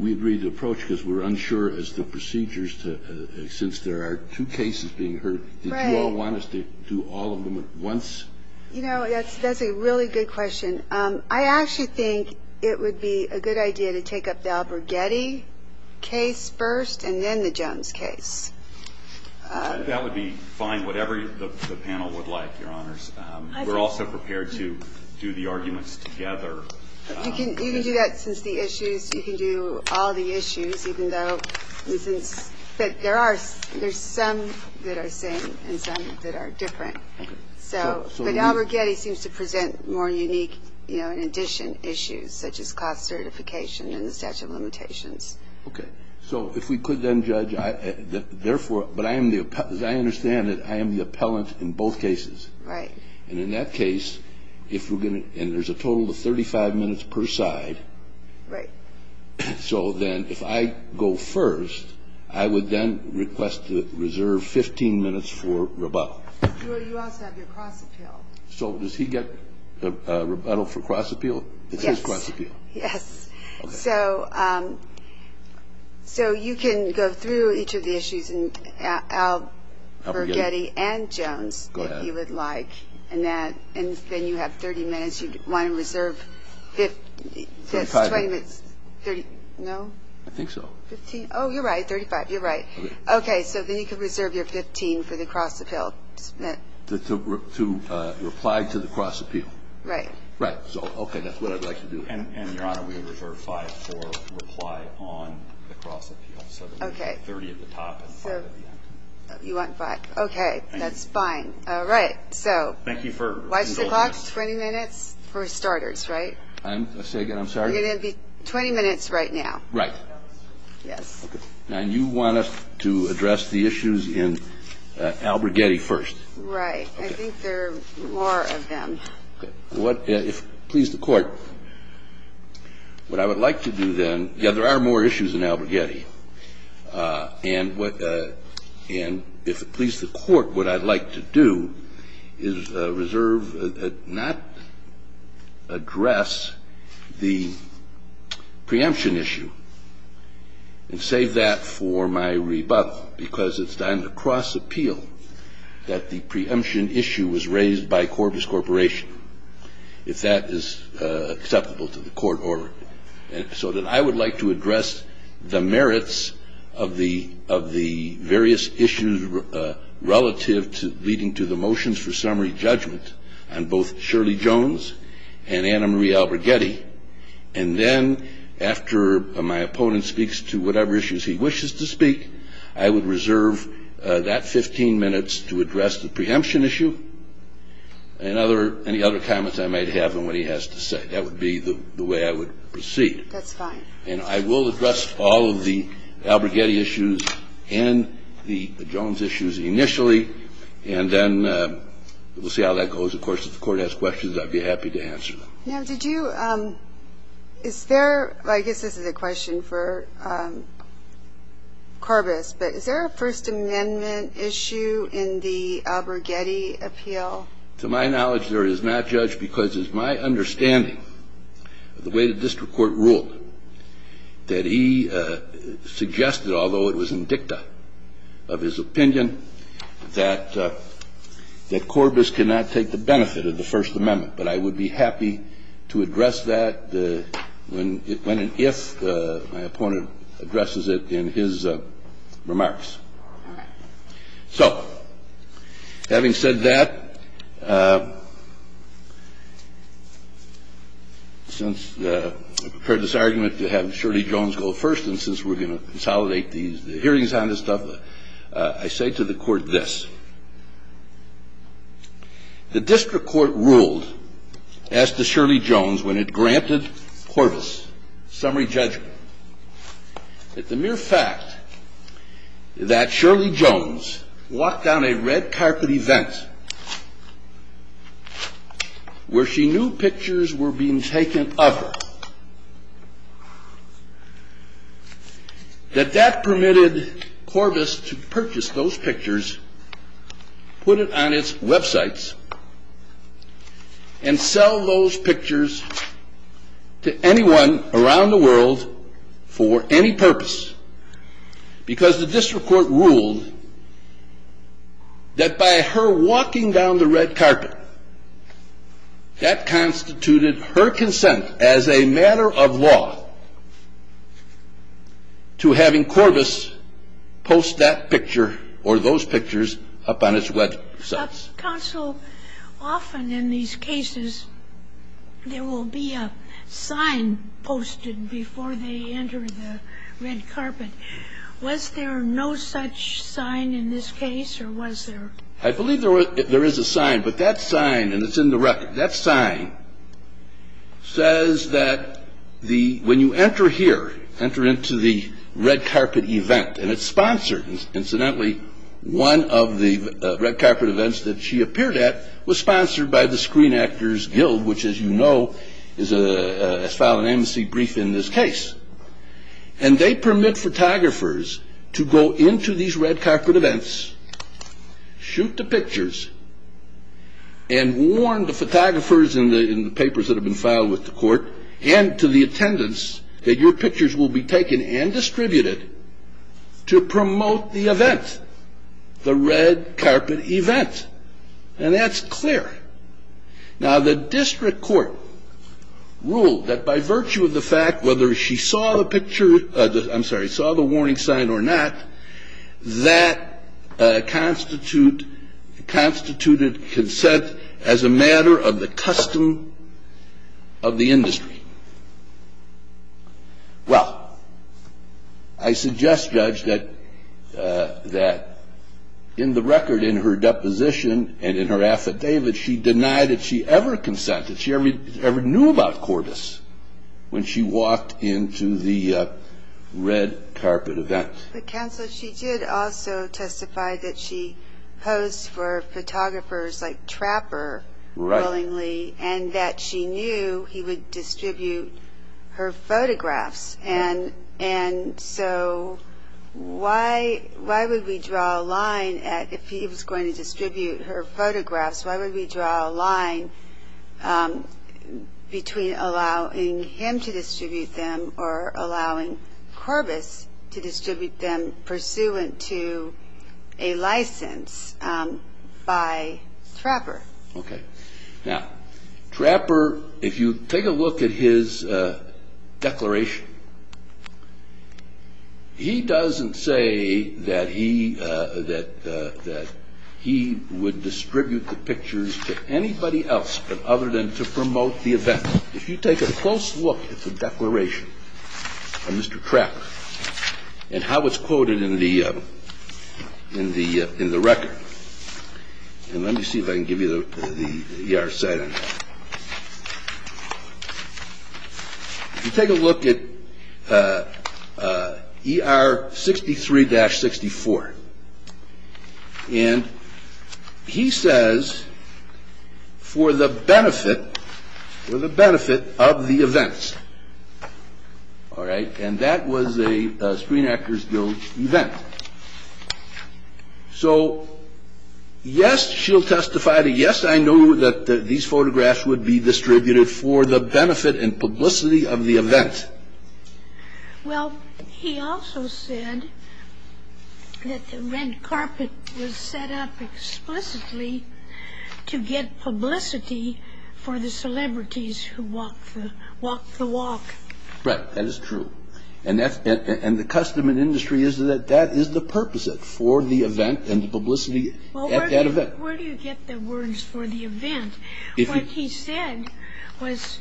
We agree to approach because we are unsure as to procedures since there are two cases being heard. Do you all want us to do all of them at once? You know, that's a really good question. I actually think it would be a good idea to take up the Albergetti case first and then the Jones case. That would be fine, whatever the panel would like, Your Honors. We're also prepared to do the arguments together. You can do that since the issues, you can do all the issues even though there are some that are the same and some that are different. But Albergetti seems to present more unique, you know, addition issues such as cost certification and the statute of limitations. Okay, so if we could then judge, therefore, but as I understand it, I am the appellant in both cases. Right. And in that case, if we're going to, and there's a total of 35 minutes per side. Right. So then if I go first, I would then request to reserve 15 minutes for rebuttal. You also have your cross appeal. So does he get rebuttal for cross appeal? Yes. So you can go through each of the issues in Albergetti and Jones if he would like. Go ahead. And then you have 30 minutes, you'd want to reserve 15, no? I think so. 15, oh, you're right, 35, you're right. Okay, so then you can reserve your 15 for the cross appeal. To reply to the cross appeal. Right. Right, so, okay, that's what I'd like to do. And, Your Honor, we reserve five for reply on the cross appeal. Okay. So then you have 30 at the top and five at the bottom. You want five. Okay, that's fine. All right, so. Thank you for indulging us. Watch the clock, 20 minutes for starters, right? Say again, I'm sorry? It's going to be 20 minutes right now. Right. Yes. Okay. And you want us to address the issues in Albergetti first. Right, I think there are more of them. If it pleases the court, what I would like to do then, yes, there are more issues in Albergetti. And if it pleases the court, what I'd like to do is reserve, not address the preemption issue and save that for my rebuttal. Because it's on the cross appeal that the preemption issue was raised by Corvus Corporation. If that is acceptable to the court order. So then I would like to address the merits of the various issues relative to leading to the motions for summary judgment on both Shirley Jones and Anna Marie Albergetti. And then after my opponent speaks to whatever issues he wishes to speak, I would reserve that 15 minutes to address the preemption issue and any other comments I might have on what he has to say. That would be the way I would proceed. That's fine. And I will address all of the Albergetti issues and the Jones issues initially. And then we'll see how that goes. Of course, if the court has questions, I'd be happy to answer them. Ma'am, did you, is there, I guess this is a question for Corvus, but is there a First Amendment issue in the Albergetti appeal? To my knowledge, there is not, Judge, because it's my understanding of the way the district court ruled that he suggested, although it was in dicta of his opinion, that Corvus cannot take the benefit of the First Amendment. But I would be happy to address that when and if my opponent addresses it in his remarks. So, having said that, since I prepared this argument to have Shirley Jones go first and since we're going to consolidate the hearings on this stuff, I say to the court this. The district court ruled as to Shirley Jones when it granted Corvus summary judgment that the mere fact that Shirley Jones walked down a red carpet event where she knew pictures were being taken of her, that that permitted Corvus to purchase those pictures, put it on its websites, and sell those pictures to anyone around the world for any purpose. Because the district court ruled that by her walking down the red carpet, that constituted her consent as a matter of law to having Corvus post that picture or those pictures up on its websites. Counsel, often in these cases, there will be a sign posted before they enter the red carpet. Was there no such sign in this case, or was there? I believe there is a sign, but that sign, and it's in the record, that sign says that when you enter here, enter into the red carpet event, and it's sponsored. Incidentally, one of the red carpet events that she appeared at was sponsored by the Screen Actors Guild, which, as you know, has filed an amnesty brief in this case. And they permit photographers to go into these red carpet events, shoot the pictures, and warn the photographers in the papers that have been filed with the court, and to the attendants, that your pictures will be taken and distributed to promote the event, the red carpet event. And that's clear. Now, the district court ruled that by virtue of the fact whether she saw the picture, I'm sorry, saw the warning sign or not, that constituted consent as a matter of the custom of the industry. Well, I suggest, Judge, that in the record, in her deposition, and in her affidavit, she denied that she ever consented. She never knew about Corvus when she walked into the red carpet event. Counsel, she did also testify that she posed for photographers like Trapper willingly, and that she knew he would distribute her photographs. And so why would we draw a line, if he was going to distribute her photographs, why would we draw a line between allowing him to distribute them or allowing Corvus to distribute them pursuant to a license by Trapper? Now, Trapper, if you take a look at his declaration, he doesn't say that he would distribute the pictures to anybody else but other than to promote the event. If you take a close look at the declaration of Mr. Trapper, and how it's quoted in the record, and let me see if I can give you the ER site on this. If you take a look at ER 63-64, and he says, for the benefit of the events, and that was a Screen Actors Guild event. So, yes, she'll testify that, yes, I knew that these photographs would be distributed for the benefit and publicity of the event. Well, he also said that the red carpet was set up explicitly to get publicity for the celebrities who walked the walk. Right, that is true. And the custom and industry is that that is the purpose for the event and publicity at that event. Where do you get the words for the event? What he said was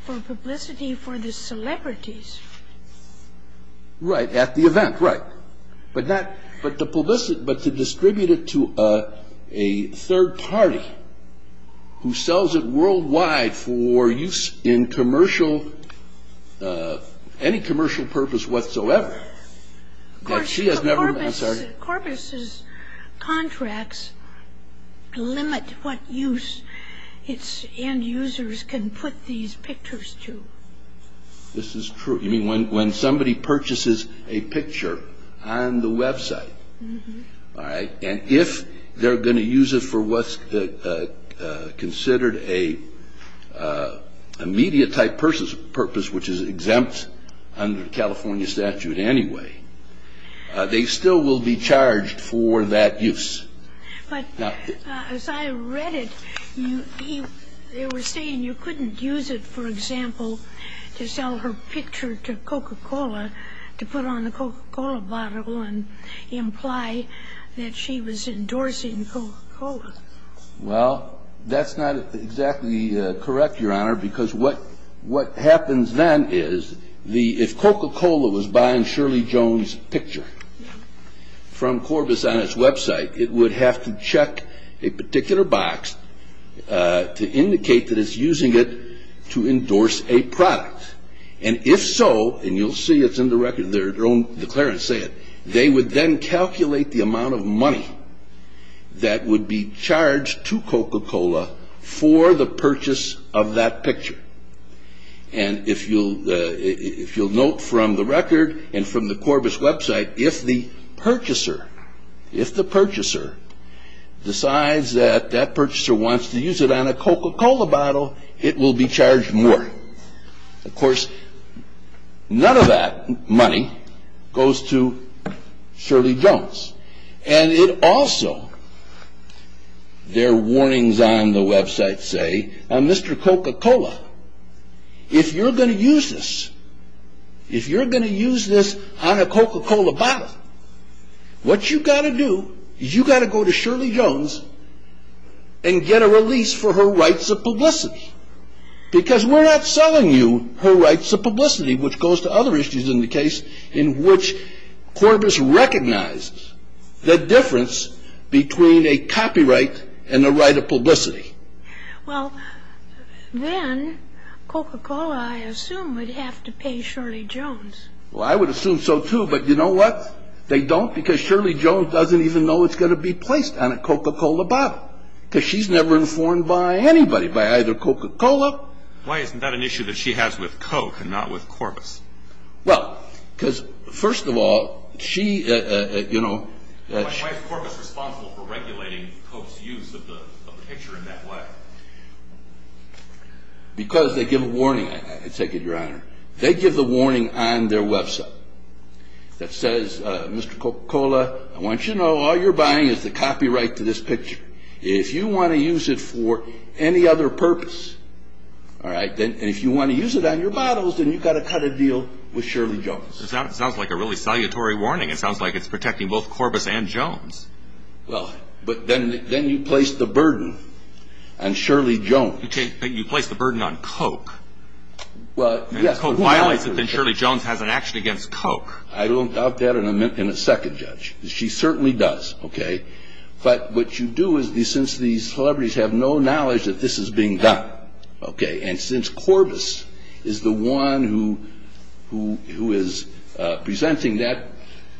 for publicity for the celebrities. Right, at the event, right. But to distribute it to a third party who sells it worldwide to sell it worldwide for use in commercial, any commercial purpose whatsoever. Corbis' contracts limit what use its end users can put these pictures to. This is true. You mean when somebody purchases a picture on the website, and if they're going to use it for what's considered a media-type purpose, which is exempt under California statute anyway, they still will be charged for that use. But as I read it, they were saying you couldn't use it, for example, to sell her picture to Coca-Cola to put on the Coca-Cola bottle and imply that she was endorsing Coca-Cola. Well, that's not exactly correct, Your Honor, because what happens then is if Coca-Cola was buying Shirley Jones' picture from Corbis on its website, it would have to check a particular box to indicate that it's using it to endorse a product. And if so, and you'll see it's in the record, their own declarants say it, they would then calculate the amount of money that would be charged to Coca-Cola for the purchase of that picture. And if you'll note from the record and from the Corbis website, if the purchaser decides that that purchaser wants to use it on a Coca-Cola bottle, it will be charged more. Of course, none of that money goes to Shirley Jones. And it also, their warnings on the website say, on Mr. Coca-Cola, if you're going to use this, if you're going to use this on a Coca-Cola bottle, what you've got to do is you've got to go to Shirley Jones and get a release for her rights of publicity. Because we're not selling you her rights of publicity, which goes to other issues in the case in which Corbis recognizes the difference between a copyright and a right of publicity. Well, then Coca-Cola, I assume, would have to pay Shirley Jones. Well, I would assume so too, but you know what? They don't because Shirley Jones doesn't even know it's going to be placed on a Coca-Cola bottle. Because she's never informed by anybody, by either Coca-Cola... Why isn't that an issue that she has with Coke and not with Corbis? Well, because first of all, she, you know... Why is Corbis responsible for regulating Coke's use of the picture in that way? Because they give a warning, I take it, Your Honor. They give the warning on their website that says, Mr. Coca-Cola, I want you to know all you're buying is the copyright to this picture. If you want to use it for any other purpose, and if you want to use it on your bottles, then you've got to cut a deal with Shirley Jones. That sounds like a really salutary warning. It sounds like it's protecting both Corbis and Jones. Well, but then you place the burden on Shirley Jones. But you place the burden on Coke. Coke violates it, and Shirley Jones has an action against Coke. I will doubt that in a second, Judge. She certainly does, okay? But what you do is, since these celebrities have no knowledge that this is being done, okay, and since Corbis is the one who is presenting that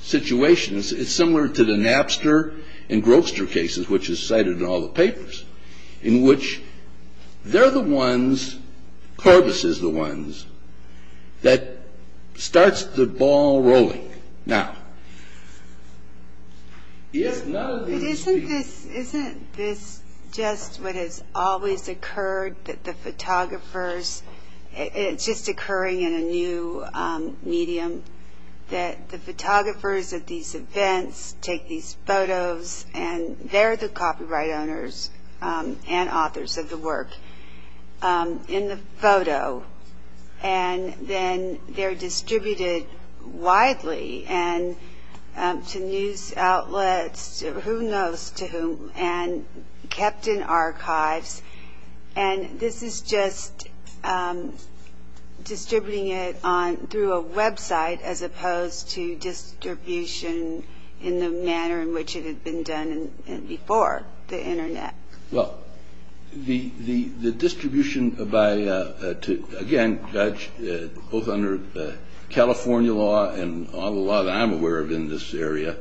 situation, it's similar to the Napster and Grobster cases, which is cited in all the papers, in which they're the ones, Corbis is the ones, that starts the ball rolling. Now, if none of you see... Isn't this just what has always occurred, that the photographers, and it's just occurring in a new medium, that the photographers at these events take these photos, and they're the copyright owners and authors of the work, in the photo, and then they're distributed widely to news outlets, who knows to whom, and kept in archives. And this is just distributing it through a website, as opposed to distribution in the manner in which it has been done before, the Internet. Well, the distribution by... Again, Judge, both under California law and all the law that I'm aware of in this area,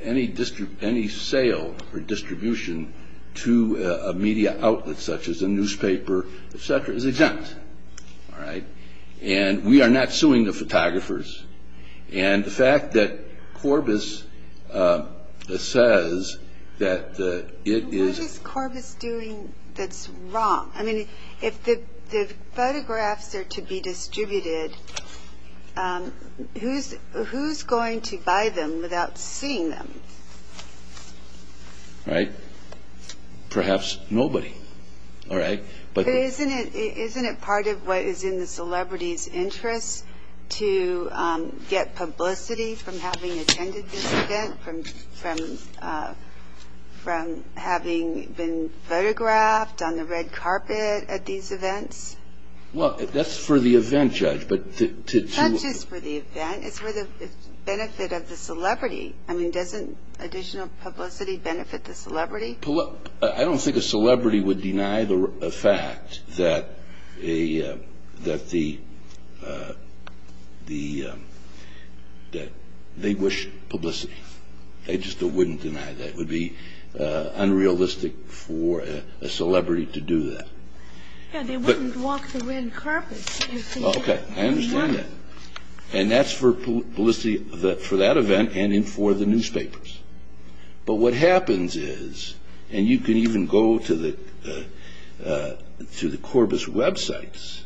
any sale or distribution to a media outlet, such as a newspaper, etc., is exempt. And we are not suing the photographers. And the fact that Corbis says that it is... What is Corbis doing that's wrong? I mean, if the photographs are to be distributed, who's going to buy them without seeing them? Right. Perhaps nobody. But isn't it part of what is in the celebrity's interest to get publicity from having attended these events, from having been photographed on the red carpet at these events? Well, that's for the event, Judge, but to... Not just for the event. It's for the benefit of the celebrity. I mean, doesn't additional publicity benefit the celebrity? I don't think a celebrity would deny the fact that they wish publicity. They just wouldn't deny that. It would be unrealistic for a celebrity to do that. They wouldn't walk the red carpet. Okay. I understand that. And that's for that event and for the newspapers. But what happens is, and you can even go to the Corbis websites,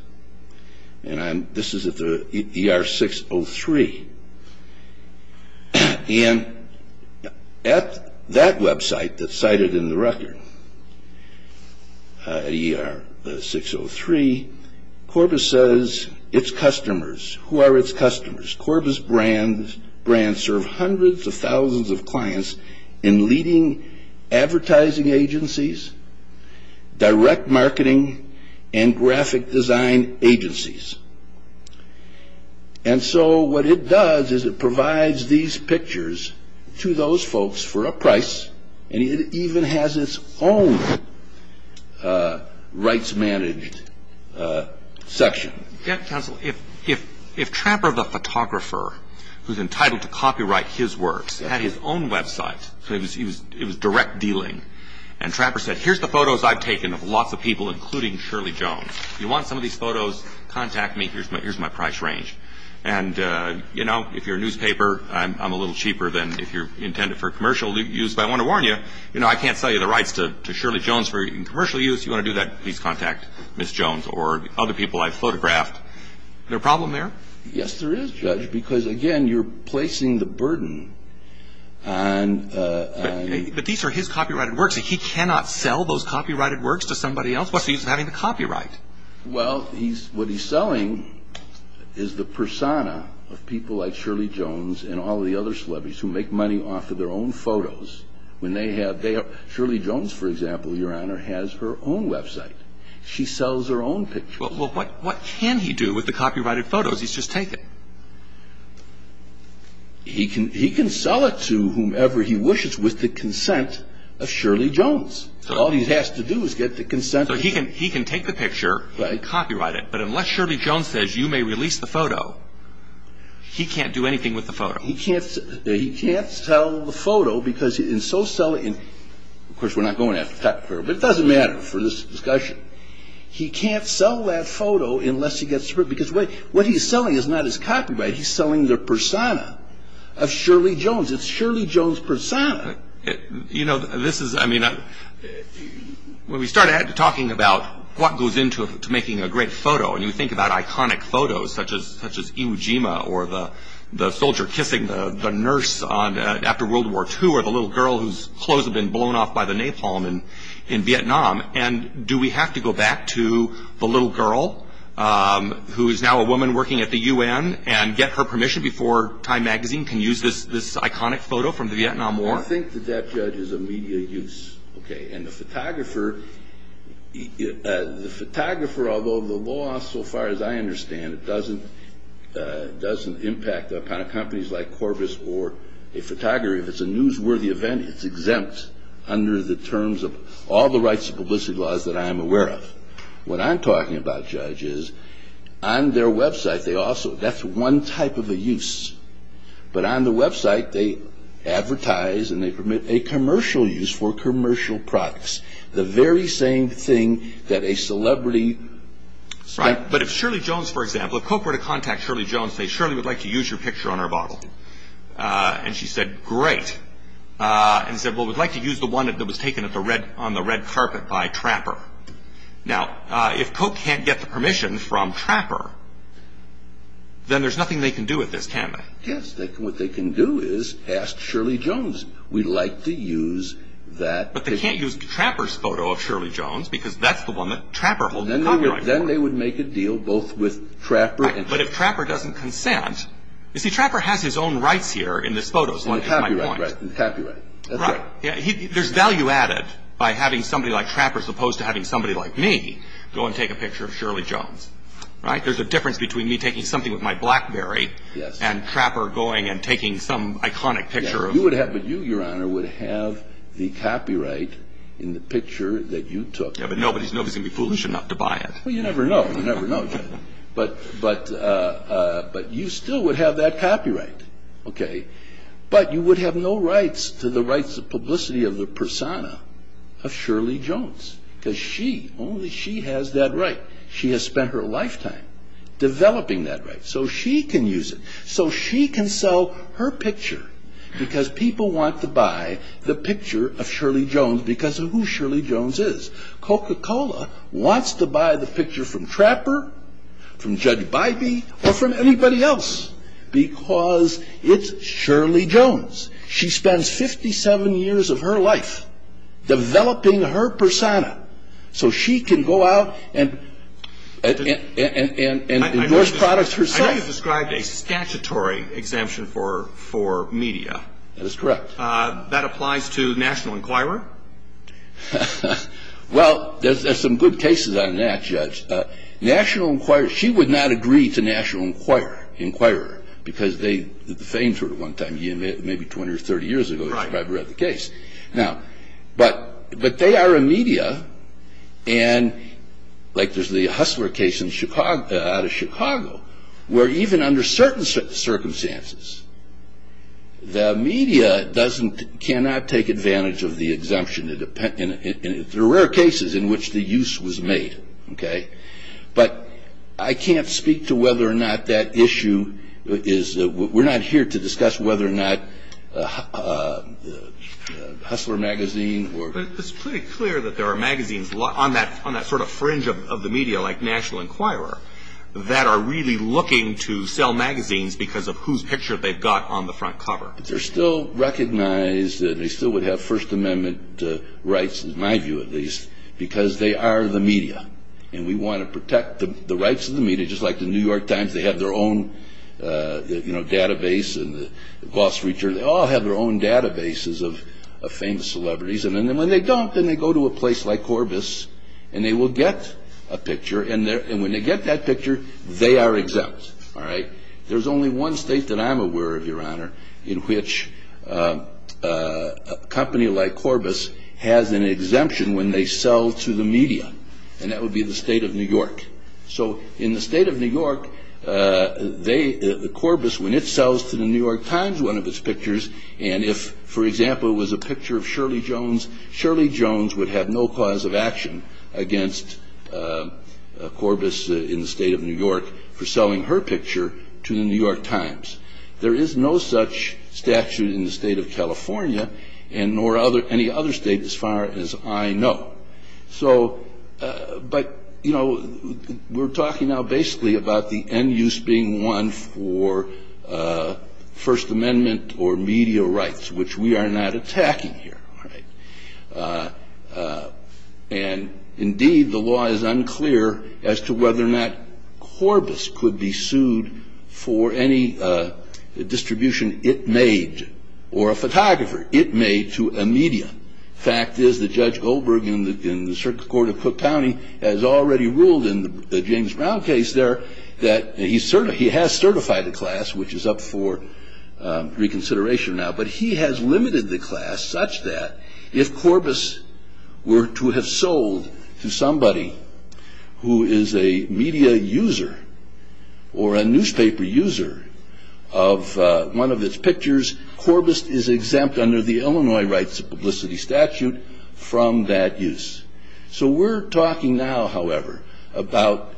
and this is at the ER-603, and at that website that's cited in the record, ER-603, Corbis says it's customers. Who are its customers? Corbis brands serve hundreds of thousands of clients in leading advertising agencies, direct marketing, and graphic design agencies. And so what it does is it provides these pictures to those folks for a price, and it even has its own rights-managed section. Counsel, if Trapper, the photographer, who's entitled to copyright his works, had his own website, so it was direct dealing, and Trapper said, here's the photos I've taken of lots of people, including Shirley Jones. If you want some of these photos, contact me. Here's my price range. And, you know, if you're a newspaper, I'm a little cheaper than if you're intended for commercial use, but I want to warn you, you know, I can't sell you the rights to Shirley Jones for commercial use. If you want to do that, please contact Ms. Jones or other people I've photographed. Is there a problem there? Yes, there is, Judge, because, again, you're placing the burden on- But these are his copyrighted works. He cannot sell those copyrighted works to somebody else. Plus, he's not even having the copyright. Well, what he's selling is the persona of people like Shirley Jones and all the other celebrities who make money off of their own photos. Shirley Jones, for example, Your Honor, has her own website. She sells her own pictures. Well, what can he do with the copyrighted photos he's just taken? He can sell it to whomever he wishes with the consent of Shirley Jones. All he has to do is get the consent of- So he can take the picture and copyright it, but unless Shirley Jones says, you may release the photo, he can't do anything with the photo. He can't sell the photo because in so selling- Of course, we're not going after the copyright, but it doesn't matter for this discussion. He can't sell that photo unless he gets- Because what he's selling is not his copyright. It's Shirley Jones' persona. You know, this is- When we start talking about what goes into making a great photo, and you think about iconic photos such as Im Jima or the soldier kissing the nurse after World War II or the little girl whose clothes have been blown off by the napalm in Vietnam, and do we have to go back to the little girl who is now a woman working at the UN and get her permission before Time Magazine can use this iconic photo from the Vietnam War? I think the deaf judge is a media use. And the photographer, although the law, so far as I understand it, doesn't impact the kind of companies like Corvus or a photographer. If it's a newsworthy event, it's exempt under the terms of all the rights of publicity laws that I am aware of. What I'm talking about, Judge, is on their website, that's one type of a use. But on the website, they advertise and they permit a commercial use for commercial products. The very same thing that a celebrity- But if Shirley Jones, for example, if Coke were to contact Shirley Jones and say, Shirley would like to use your picture on her bottle. And she said, great. And said, well, we'd like to use the one that was taken on the red carpet by Trapper. Now, if Coke can't get the permission from Trapper, then there's nothing they can do with this, can there? Yes, what they can do is ask Shirley Jones. We'd like to use that picture. But they can't use Trapper's photo of Shirley Jones, because that's the one that Trapper will be covering. Then they would make a deal both with Trapper and Coke. But if Trapper doesn't consent- You see, Trapper has his own rights here in this photo. It's copyright. There's value added by having somebody like Trapper, as opposed to having somebody like me go and take a picture of Shirley Jones. There's a difference between me taking something with my Blackberry and Trapper going and taking some iconic picture of- You, Your Honor, would have the copyright in the picture that you took. Yeah, but nobody's going to be foolish enough to buy it. Well, you never know. But you still would have that copyright. But you would have no rights to the rights of publicity of the persona of Shirley Jones. Because only she has that right. She has spent her lifetime developing that right. So she can use it. So she can sell her picture, because people want to buy the picture of Shirley Jones, because of who Shirley Jones is. Coca-Cola wants to buy the picture from Trapper, from Judge Bybee, or from anybody else, because it's Shirley Jones. She spends 57 years of her life developing her persona, so she can go out and endorse products herself. I heard you describe a statutory exemption for media. That's correct. That applies to National Enquirer? Well, there's some good cases on that, Judge. She would not agree to National Enquirer, because they defamed her at one time, maybe 20 or 30 years ago, if I've read the case. But they are a media, like there's the Hustler case out of Chicago, where even under certain circumstances, the media cannot take advantage of the exemption. There are rare cases in which the use was made. But I can't speak to whether or not that issue is we're not here to discuss whether or not Hustler magazine. It's pretty clear that there are magazines on that sort of fringe of the media, like National Enquirer, that are really looking to sell magazines because of whose picture they've got on the front cover. They're still recognized that they still would have First Amendment rights, in my view at least, because they are the media, and we want to protect the rights of the media, just like the New York Times, they have their own database, and the Glossary, they all have their own databases of famous celebrities. And when they don't, then they go to a place like Corbis, and they will get a picture, and when they get that picture, they are exempt. There's only one state that I'm aware of, Your Honor, in which a company like Corbis has an exemption when they sell to the media, and that would be the state of New York. So in the state of New York, the Corbis, when it sells to the New York Times one of its pictures, and if, for example, it was a picture of Shirley Jones, Shirley Jones would have no cause of action against Corbis in the state of New York for selling her picture to the New York Times. There is no such statute in the state of California, and nor any other state as far as I know. So, but, you know, we're talking now basically about the end use being one for First Amendment or media rights, which we are not attacking here. And indeed, the law is unclear as to whether or not Corbis could be sued for any distribution it made, or a photographer it made to a media. The fact is that Judge Goldberg in the Circuit Court of Cook County has already ruled in the James Brown case there that he has certified a class, which is up for reconsideration now, but he has limited the class such that if Corbis were to have sold to somebody who is a media user or a newspaper user of one of its pictures, Corbis is exempt under the Illinois Rights Publicity Statute from that use. So we're talking now, however, about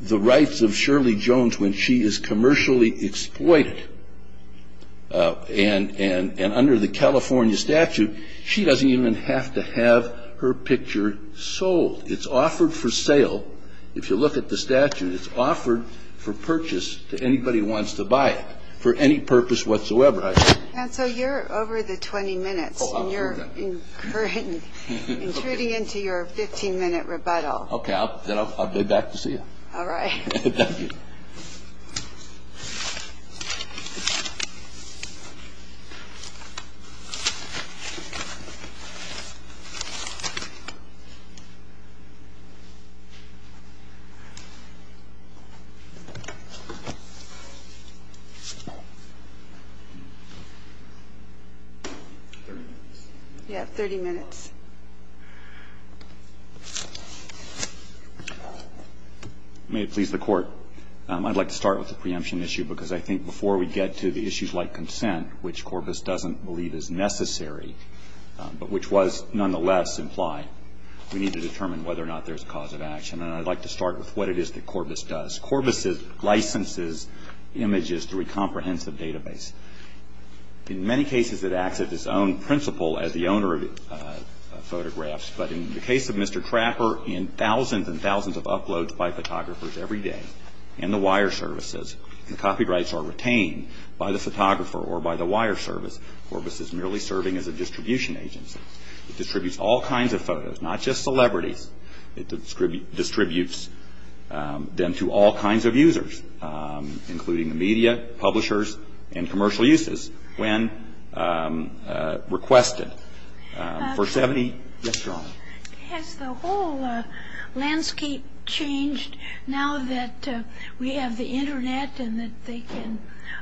the rights of Shirley Jones when she is commercially exploited and under the California statute, she doesn't even have to have her picture sold. It's offered for sale. If you look at the statute, it's offered for purchase to anybody who wants to buy it for any purpose whatsoever. Counsel, you're over the 20 minutes, and you're including into your 15-minute rebuttal. Okay, then I'll be back to see you. All right. Thank you. Yes, 30 minutes. May it please the Court, I'd like to start with the preemption issue because I think before we get to the issues like consent, which Corbis doesn't believe is necessary, but which was nonetheless implied, we need to determine whether or not there's cause of action, and I'd like to start with what it is that Corbis does. Corbis licenses images through a comprehensive database. In many cases, it acts at its own principle as the owner of photographs, but in the case of Mr. Trapper, in thousands and thousands of uploads by photographers every day, and the wire services, the copyrights are retained by the photographer or by the wire service. Corbis is merely serving as a distribution agency. It distributes all kinds of photos, not just celebrity. It distributes them to all kinds of users, including media, publishers, and commercial uses when requested. Has the whole landscape changed now that we have the Internet and that they can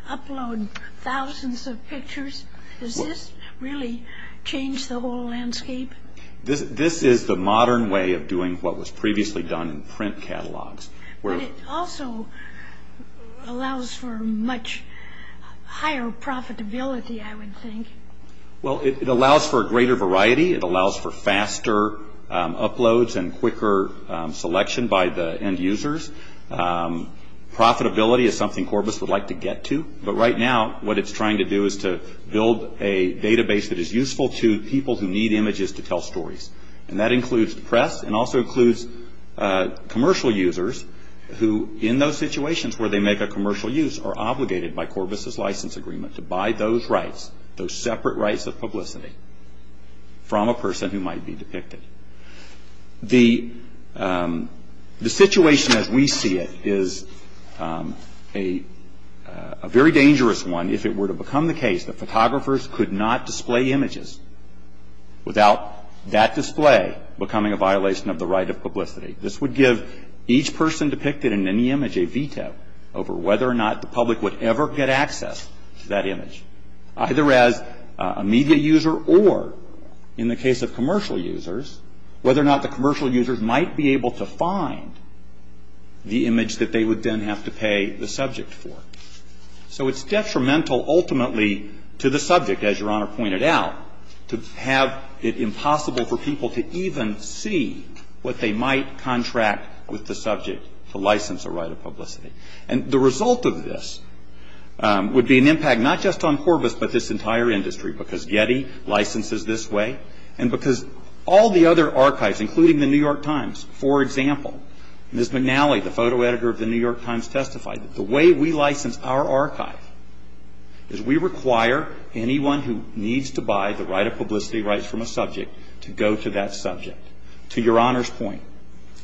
upload thousands of pictures? Does this really change the whole landscape? This is the modern way of doing what was previously done in print catalogs. It also allows for much higher profitability, I would think. It allows for a greater variety. It allows for faster uploads and quicker selection by the end users. Profitability is something Corbis would like to get to, but right now what it's trying to do is to build a database that is useful to people who need images to tell stories, and that includes the press and also includes commercial users who, in those situations where they make a commercial use, are obligated by Corbis's license agreement to buy those rights, those separate rights of publicity, from a person who might be depicted. The situation as we see it is a very dangerous one if it were to become the case that photographers could not display images without that display becoming a violation of the right of publicity. This would give each person depicted in any image a veto over whether or not the public would ever get access to that image, either as a media user or, in the case of commercial users, whether or not the commercial users might be able to find the image that they would then have to pay the subject for. So it's detrimental ultimately to the subject, as your Honor pointed out, to have it impossible for people to even see what they might contract with the subject to license a right of publicity. And the result of this would be an impact not just on Corbis, but this entire industry, because Getty licenses this way and because all the other archives, including the New York Times, for example, Ms. McNally, the photo editor of the New York Times, testified that the way we license our archives is we require anyone who needs to buy the right of publicity rights from a subject to go to that subject. To your Honor's point,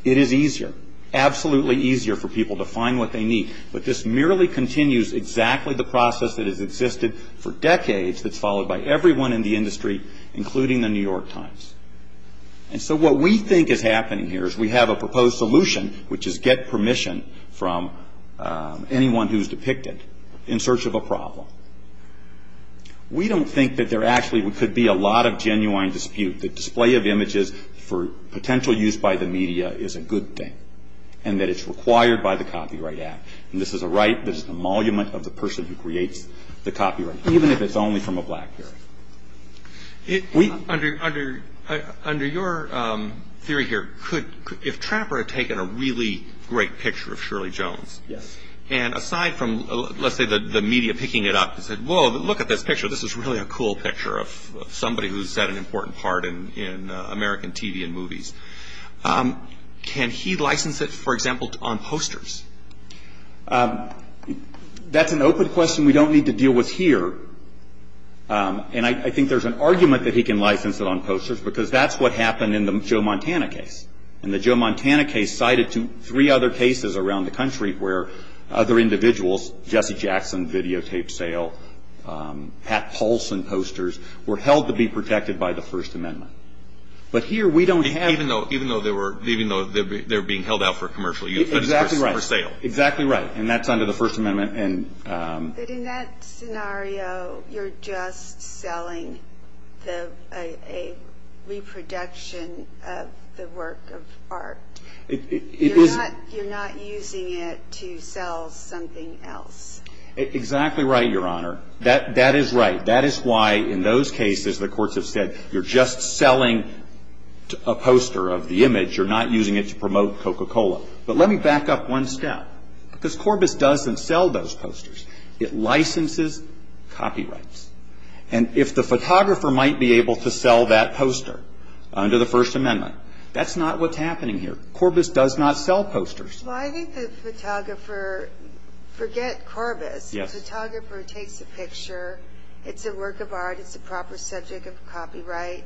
it is easier, absolutely easier for people to find what they need, but this merely continues exactly the process that has existed for decades that's followed by everyone in the industry, including the New York Times. And so what we think is happening here is we have a proposed solution, which is get permission from anyone who's depicted in search of a problem. We don't think that there actually could be a lot of genuine dispute. The display of images for potential use by the media is a good thing and that it's required by the Copyright Act. And this is the right, this is the emolument of the person who creates the copyright, even if it's only from a blackberry. Under your theory here, if Trapper had taken a really great picture of Shirley Jones, and aside from, let's say the media picking it up and said, whoa, look at this picture, this is really a cool picture of somebody who's had an important part in American TV and movies, can he license it, for example, on posters? That's an open question we don't need to deal with here. And I think there's an argument that he can license it on posters because that's what happened in the Joe Montana case. And the Joe Montana case sided to three other cases around the country where other individuals, Jesse Jackson videotaped sale, Pat Paulson posters, were held to be protected by the First Amendment. But here we don't have... Even though they were being held out for commercial use. Exactly right. For sale. Exactly right. And that's under the First Amendment. But in that scenario, you're just selling a reproduction of the work of art. You're not using it to sell something else. Exactly right, Your Honor. That is right. That is why in those cases, the courts have said, you're just selling a poster of the image. You're not using it to promote Coca-Cola. But let me back up one step. Because Corbis doesn't sell those posters. It licenses copyrights. And if the photographer might be able to sell that poster under the First Amendment, that's not what's happening here. Corbis does not sell posters. Well, I think the photographer... Forget Corbis. The photographer takes a picture. It's a work of art. It's a proper subject of copyright.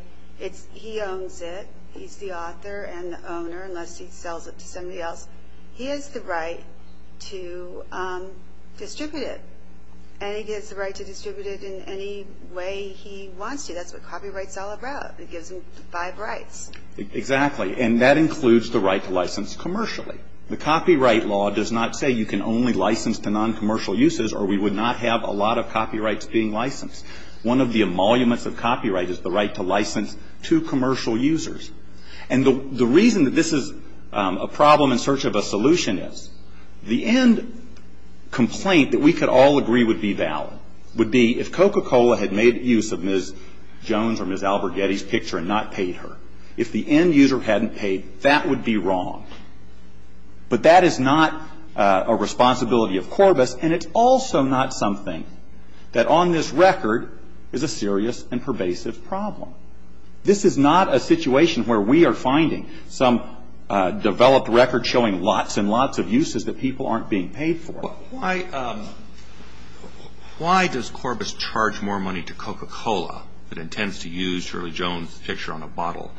He owns it. He's the author and the owner unless he sells it to somebody else. He has the right to distribute it. And he gets the right to distribute it in any way he wants to. That's what copyright is all about. It gives him five rights. Exactly. And that includes the right to license commercially. The copyright law does not say you can only license to non-commercial uses or we would not have a lot of copyrights being licensed. One of the emoluments of copyright is the right to license to commercial users. And the reason that this is a problem in search of a solution is the end complaint that we could all agree would be valid would be if Coca-Cola had made use of Ms. Jones or Ms. Alberghetti's picture and not paid her. If the end user hadn't paid, that would be wrong. But that is not a responsibility of Corbis and it's also not something that on this record is a serious and pervasive problem. This is not a situation where we are finding some developed record showing lots and lots of uses that people aren't being paid for. Why does Corbis charge more money to Coca-Cola that intends to use Shirley Jones' picture on a bottle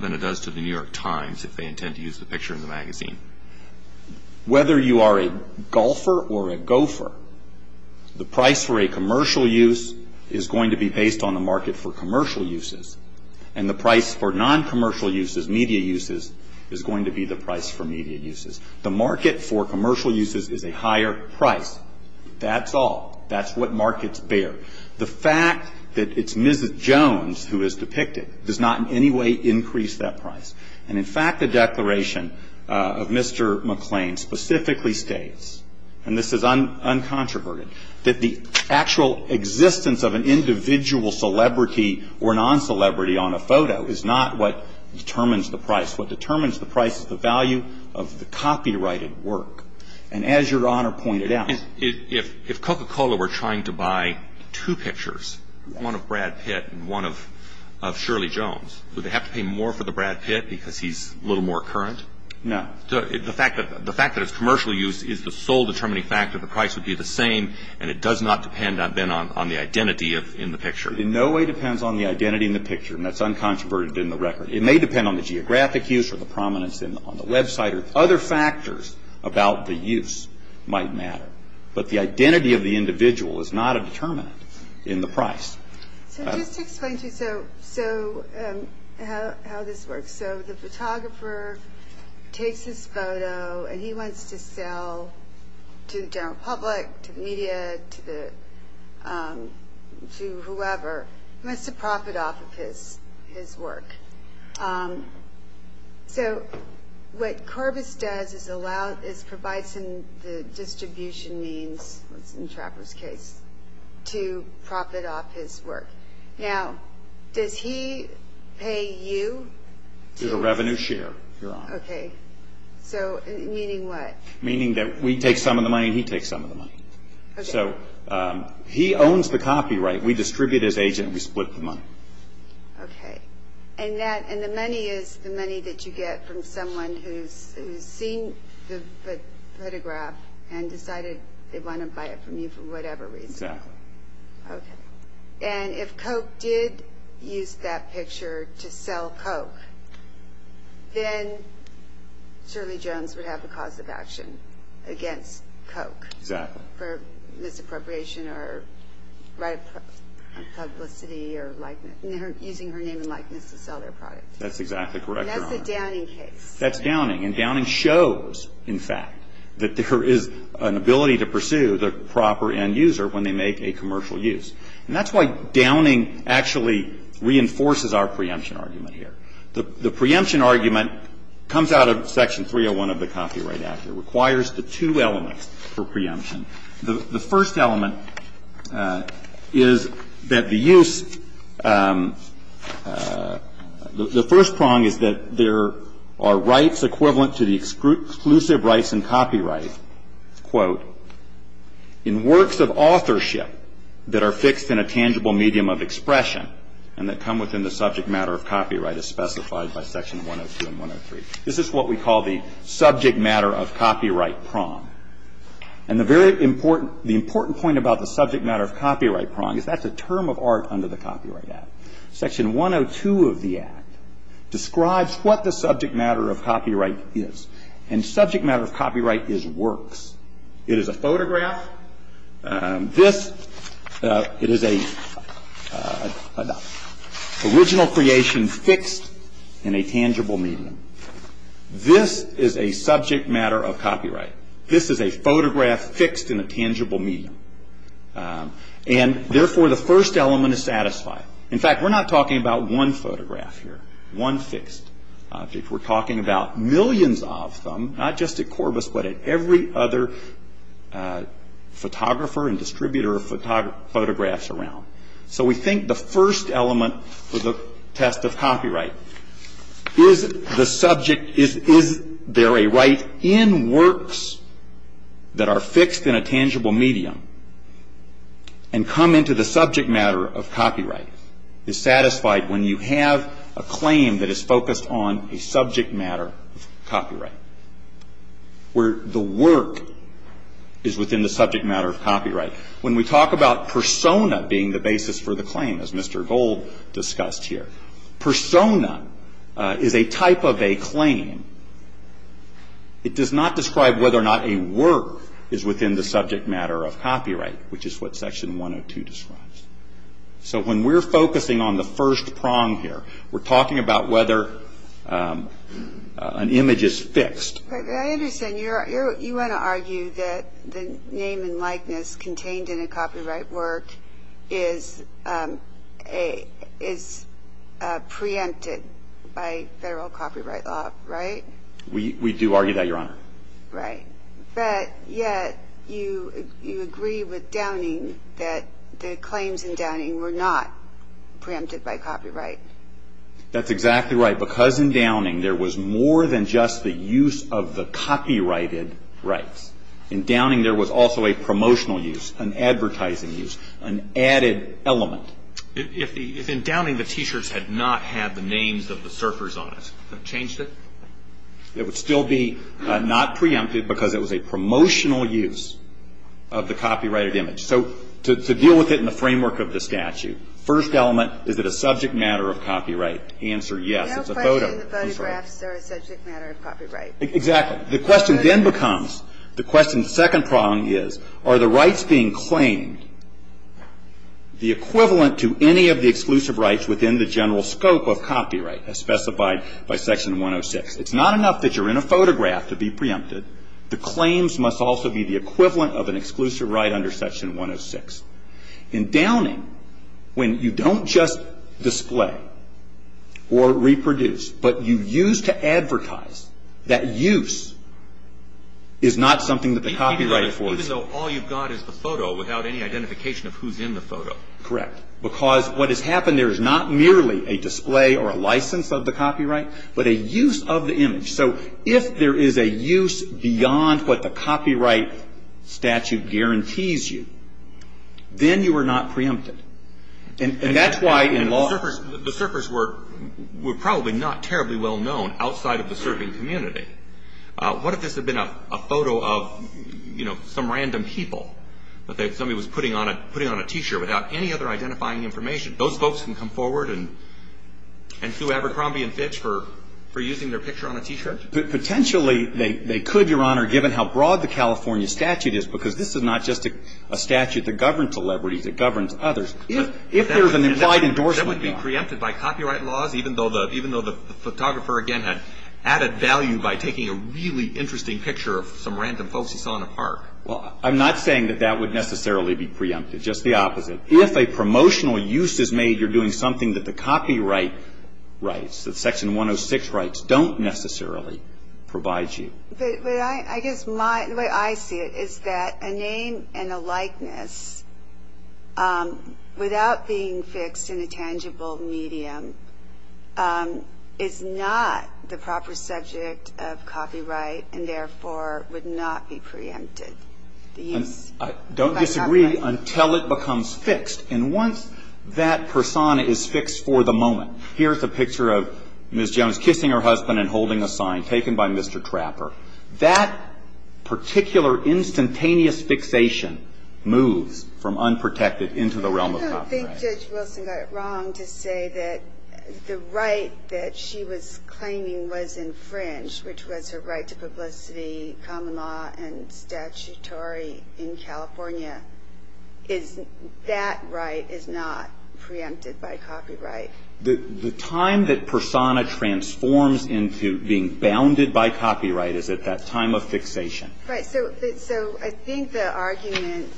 than it does to the New York Times if they intend to use the picture in the magazine? Whether you are a golfer or a gopher, the price for a commercial use is going to be based on the market for commercial uses and the price for non-commercial uses, media uses, is going to be the price for media uses. The market for commercial uses is a higher price. That's all. That's what markets bear. The fact that it's Ms. Jones who is depicted does not in any way increase that price. And in fact, the declaration of Mr. McClain specifically states and this is uncontroverted, that the actual existence of an individual celebrity or non-celebrity on a photo is not what determines the price. What determines the price is the value of the copyrighted work. And as your Honor pointed out... If Coca-Cola were trying to buy two pictures, one of Brad Pitt and one of Shirley Jones, would they have to pay more for the Brad Pitt because he's a little more current? No. The fact that it's commercial use is the sole determining factor. The price would be the same and it does not depend on the identity in the picture. It in no way depends on the identity in the picture. And that's uncontroverted in the record. It may depend on the geographic use or the prominence on the website or other factors about the use might matter. But the identity of the individual is not a determinant in the price. So just to explain to you how this works. So the photographer takes his photo and he wants to sell to the general public, to the media, to whoever. He wants to profit off of his work. So what Corbis does is provide some distribution means, in Trapper's case, to profit off his work. Now, does he pay you? It's a revenue share, Your Honor. Okay. So meaning what? Meaning that we take some of the money and he takes some of the money. Okay. So he owns the copyright. We distribute his agent and we split the money. Okay. And the money is the money that you get from someone who's seen the photograph and decided they want to buy it from you for whatever reason. Exactly. Okay. And if Coke did use that picture to sell Coke, then Shirley Jones would have a cause of action against Coke. Exactly. For misappropriation or publicity or likeness, using her name and likeness to sell their product. That's exactly correct, Your Honor. And that's a Downing case. That's Downing. That's Downing. And Downing shows, in fact, that there is an ability to pursue the proper end user when they make a commercial use. And that's why Downing actually reinforces our preemption argument here. The preemption argument comes out of Section 301 of the Copyright Act. It requires the two elements for preemption. The first element is that the use, the first prong is that there are rights equivalent to the exclusive rights in copyright, quote, in works of authorship that are fixed in a tangible medium of expression and that come within the subject matter of copyright as specified by Section 102 and 103. This is what we call the subject matter of copyright prong. And the important point about the subject matter of copyright prong is that's a term of art under the Copyright Act. Section 102 of the Act describes what the subject matter of copyright is. And subject matter of copyright is works. It is a photograph. This is an original creation fixed in a tangible medium. This is a subject matter of copyright. This is a photograph fixed in a tangible medium. And therefore, the first element is satisfied. In fact, we're not talking about one photograph here, one fixed. We're talking about millions of them, not just at Corbis, but at every other photographer and distributor of photographs around. So, we think the first element of the test of copyright is the subject, is there a right in works that are fixed in a tangible medium and come into the subject matter of copyright, is satisfied when you have a claim that is focused on a subject matter of copyright, where the work is within the subject matter of copyright. When we talk about persona being the basis for the claim, as Mr. Gold discussed here, persona is a type of a claim. It does not describe whether or not a work is within the subject matter of copyright, which is what Section 102 describes. So, when we're focusing on the first prong here, we're talking about whether an image is fixed. I understand. You want to argue that the name and likeness contained in a copyright work is preempted by federal copyright law, right? We do argue that, Your Honor. Right. But yet, you agree with Downing that the claims in Downing were not preempted by copyright. That's exactly right. Because in Downing, there was more than just the use of the copyrighted rights. In Downing, there was also a promotional use, an advertising use, an added element. If in Downing, the T-shirts had not had the names of the surfers on it, have you changed it? It would still be not preempted because it was a promotional use of the copyrighted image. So, to deal with it in the framework of the statute, first element, is it a subject matter of copyright? The answer, yes. It's a photograph. There's no question that photographs are a subject matter of copyright. Exactly. The question then becomes, the second prong is, are the rights being claimed the equivalent to any of the exclusive rights within the general scope of copyright as specified by Section 106? It's not enough that you're in a photograph to be preempted. The claims must also be the equivalent of an exclusive right under Section 106. In Downing, when you don't just display or reproduce, but you use to advertise, that use is not something that the copyright enforces. Even though all you've got is the photo without any identification of who's in the photo. Correct. Because what has happened there is not merely a display or a license of the copyright, but a use of the image. So, if there is a use beyond what the copyright statute guarantees you, then you are not preempted. And that's why in law... The surfers were probably not terribly well known outside of the surfing community. What if this had been a photo of, you know, some random people that somebody was putting on a T-shirt without any other identifying information? Those folks can come forward and sue Abercrombie and Fitch for using their picture on a T-shirt? Potentially, they could, Your Honor, given how broad the California statute is, because this is not just a statute that governs celebrities, it governs others. If there's an implied endorsement... That would be preempted by copyright laws, even though the photographer, again, had added value by taking a really interesting picture of some random folks he saw in a park. Well, I'm not saying that that would necessarily be preempted, just the opposite. If a promotional use is made, you're doing something that the copyright rights, the Section 106 rights, don't necessarily provide you. But I guess the way I see it is that a name and a likeness, without being fixed in a tangible medium, is not the proper subject of copyright and, therefore, would not be preempted. Don't disagree until it becomes fixed, and once that persona is fixed for the moment, here's a picture of Ms. Jones kissing her husband and holding a sign taken by Mr. Trapper. That particular instantaneous fixation moves from unprotected into the realm of copyright. I don't think Judge Wilson got it wrong to say that the right that she was claiming was infringed, which was her right to publicity, common law, and statutory in California, that right is not preempted by copyright. The time that persona transforms into being bounded by copyright is at that time of fixation. Right, so I think the argument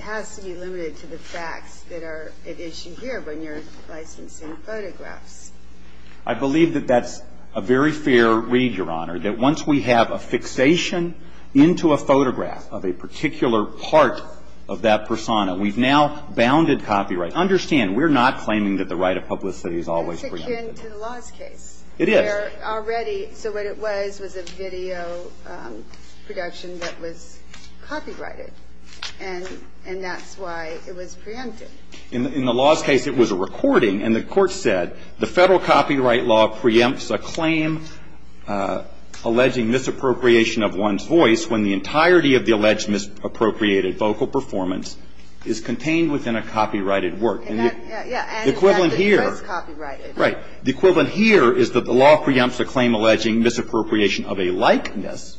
has to be limited to the facts that are at issue here when you're licensing photographs. I believe that that's a very fair read, Your Honor, that once we have a fixation into a photograph of a particular part of that persona, we've now bounded copyright. Understand, we're not claiming that the right of publicity is always preempted. It's fixed into the law's case. It is. Where already the way it was was a video production that was copyrighted, and that's why it was preempted. In the law's case, it was a recording, and the court said, the federal copyright law preempts a claim alleging misappropriation of one's voice when the entirety of the alleged misappropriated vocal performance is contained within a copyrighted work. The equivalent here is that the law preempts a claim alleging misappropriation of a likeness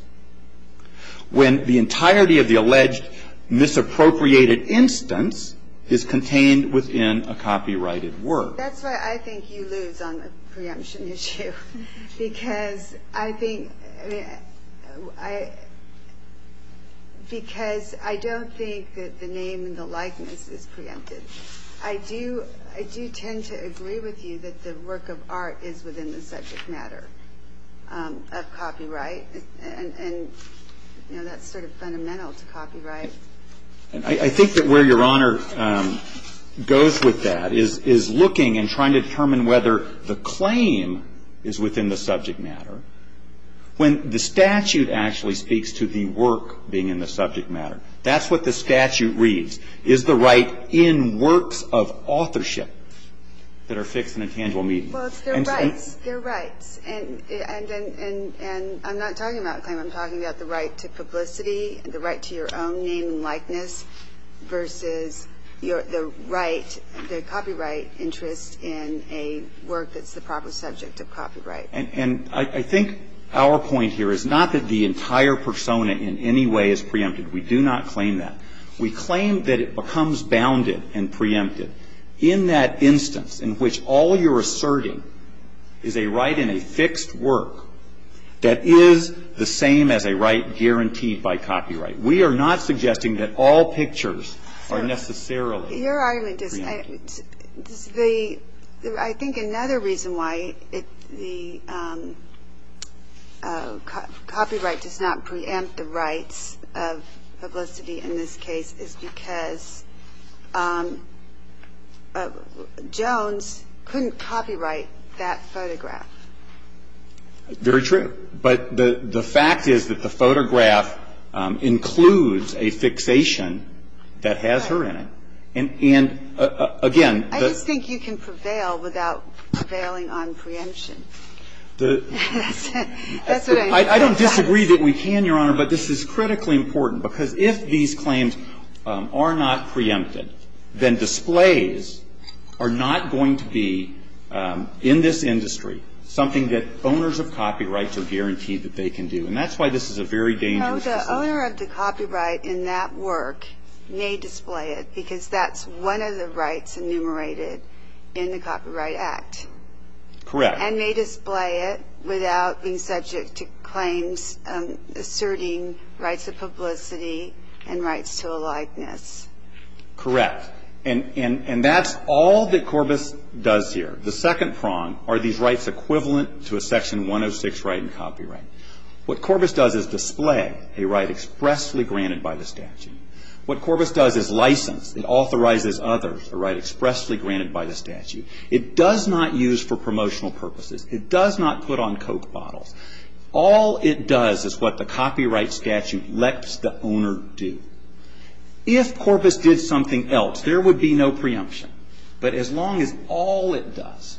when the entirety of the alleged misappropriated instance is contained within a copyrighted work. That's why I think you lose on the preemption issue, because I don't think that the name and the likeness is preempted. I do tend to agree with you that the work of art is within the subject matter of copyright, and that's sort of fundamental to copyright. I think that where your Honor goes with that is looking and trying to determine whether the claim is within the subject matter when the statute actually speaks to the work being in the subject matter. That's what the statute reads, is the right in works of authorship that are fixed in a tangible medium. Well, they're right. And I'm not talking about a claim. I'm talking about the right to publicity, the right to your own name and likeness, versus the copyright interest in a work that's the proper subject of copyright. And I think our point here is not that the entire persona in any way is preempted. We do not claim that. We claim that it becomes bounded and preempted in that instance in which all you're asserting is a right in a fixed work that is the same as a right guaranteed by copyright. We are not suggesting that all pictures are necessarily preempted. Your Honor, I think another reason why copyright does not preempt the rights of publicity in this case is because Jones couldn't copyright that photograph. Very true. But the fact is that the photograph includes a fixation that has her in it. And again... I just think you can prevail without prevailing on preemption. I don't disagree that we can, Your Honor, but this is critically important, because if these claims are not preempted, then displays are not going to be, in this industry, something that owners of copyrights are guaranteed that they can do. And that's why this is a very dangerous... Oh, the owner of the copyright in that work may display it, because that's one of the rights enumerated in the Copyright Act. Correct. And may display it without being subject to claims asserting rights of publicity and rights to aliveness. Correct. And that's all that Corbis does here. The second prong are these rights equivalent to a Section 106 right in copyright. What Corbis does is display a right expressly granted by the statute. What Corbis does is license, it authorizes others, a right expressly granted by the statute. It does not use for promotional purposes. It does not put on Coke bottles. All it does is what the copyright statute lets the owner do. If Corbis did something else, there would be no preemption. But as long as all it does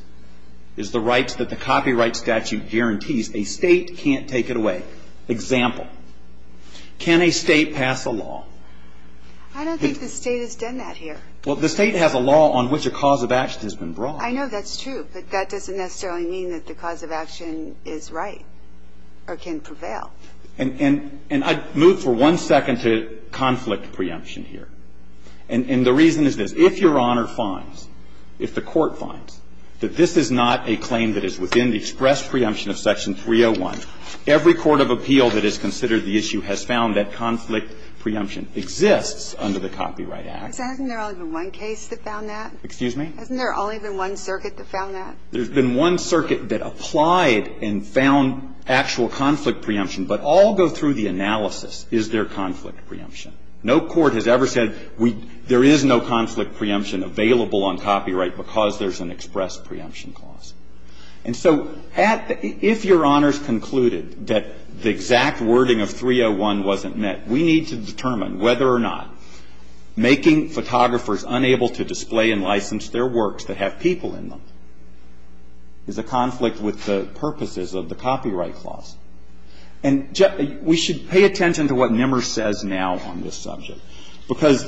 is the rights that the copyright statute guarantees, a state can't take it away. Example, can a state pass a law? I don't think the state has done that here. Well, the state has a law on which a cause of action has been brought. I know that's true, but that doesn't necessarily mean that the cause of action is right or can prevail. And I'd move for one second to conflict preemption here. And the reason is that if your honor finds, if the court finds, that this is not a claim that is within the express preemption of Section 301, every court of appeal that has considered the issue has found that conflict preemption exists under the Copyright Act. But hasn't there only been one case that found that? Excuse me? Hasn't there only been one circuit that found that? There's been one circuit that applied and found actual conflict preemption, but all go through the analysis, is there conflict preemption? No court has ever said there is no conflict preemption available on copyright because there's an express preemption clause. And so if your honors concluded that the exact wording of 301 wasn't met, we need to determine whether or not making photographers unable to display and license their works that have people in them is a conflict with the purposes of the copyright clause. And we should pay attention to what Nimmer says now on this subject, because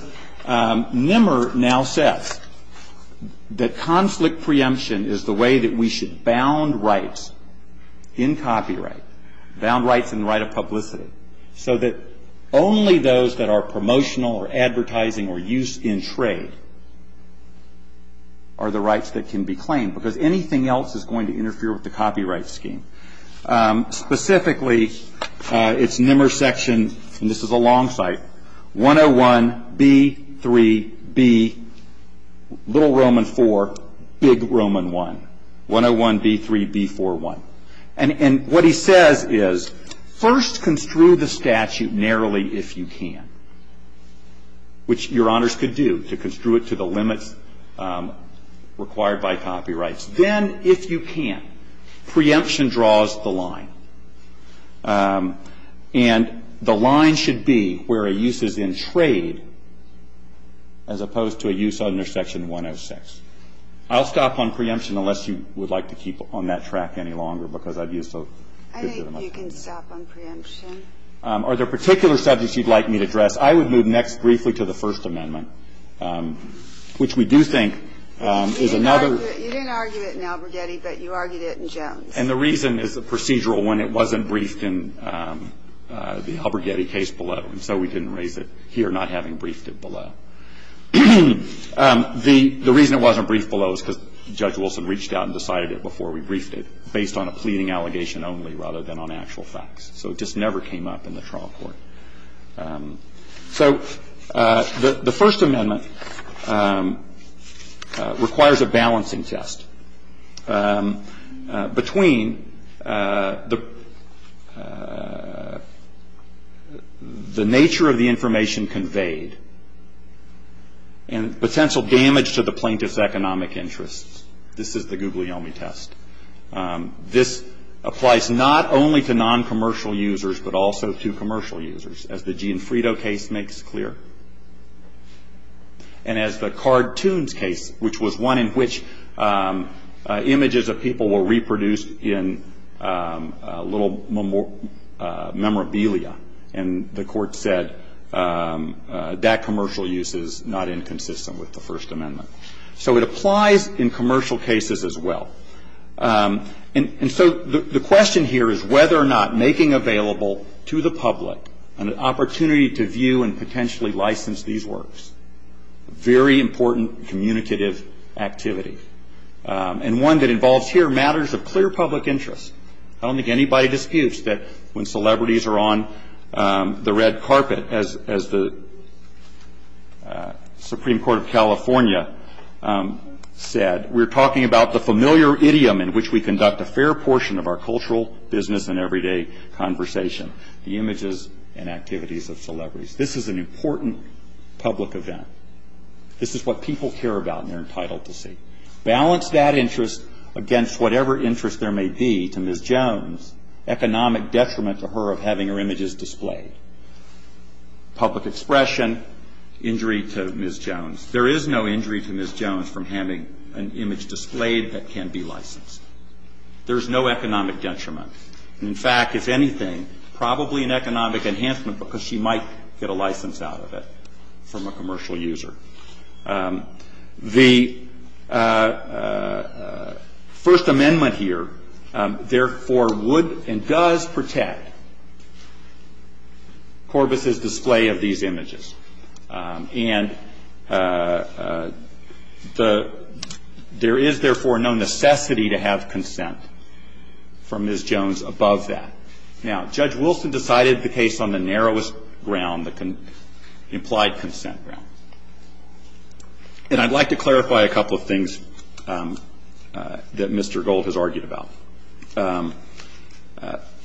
Nimmer now says that conflict preemption is the way that we should bound rights in copyright, bound rights in the right of publicity, so that only those that are promotional or advertising or used in trade are the rights that can be claimed, because anything else is going to interfere with the copyright scheme. Specifically, it's Nimmer's section, and this is a long cite, 101B3B, little Roman four, big Roman one, 101B3B41. And what he says is first construe the statute narrowly if you can, which your honors could do to construe it to the limit required by copyrights. Then, if you can, preemption draws the line, and the line should be where a use is in trade as opposed to a use under section 106. I'll stop on preemption unless you would like to keep on that track any longer, because I've used those. I think you can stop on preemption. Are there particular subjects you'd like me to address? I would move next briefly to the First Amendment, which we do think is another. You didn't argue it in Alberghetti, but you argued it in Jones. And the reason is the procedural one, it wasn't briefed in the Alberghetti case below, and so we didn't raise it here not having briefed it below. The reason it wasn't briefed below is because Judge Wilson reached out and decided it before we briefed it, based on a pleading allegation only rather than on actual facts. So it just never came up in the trial court. So the First Amendment requires a balancing test. Between the nature of the information conveyed and potential damage to the plaintiff's economic interests. This is the Guglielmi test. This applies not only to non-commercial users, but also to commercial users, as the Gianfrido case makes clear. And as the cartoons case, which was one in which images of people were reproduced in little memorabilia, and the court said that commercial use is not inconsistent with the First Amendment. So it applies in commercial cases as well. And so the question here is whether or not making available to the public an opportunity to view and potentially license these works. Very important communicative activity. And one that involves here matters of clear public interest. I don't think anybody disputes that when celebrities are on the red carpet, as the Supreme Court of California said, we're talking about the familiar idiom in which we conduct a fair portion of our cultural, business, and everyday conversation. The images and activities of celebrities. This is an important public event. This is what people care about and are entitled to see. Balance that interest against whatever interest there may be to Ms. Jones, economic detriment to her of having her images displayed. Public expression, injury to Ms. Jones. There is no injury to Ms. Jones from having an image displayed that can be licensed. There's no economic detriment. In fact, if anything, probably an economic enhancement because she might get a license out of it from a commercial user. The First Amendment here, therefore, would and does protect Corbett's display of these images. And there is, therefore, no necessity to have consent from Ms. Jones above that. Now, Judge Wilson decided the case on the narrowest ground, the implied consent ground. And I'd like to clarify a couple of things that Mr. Gold has argued about.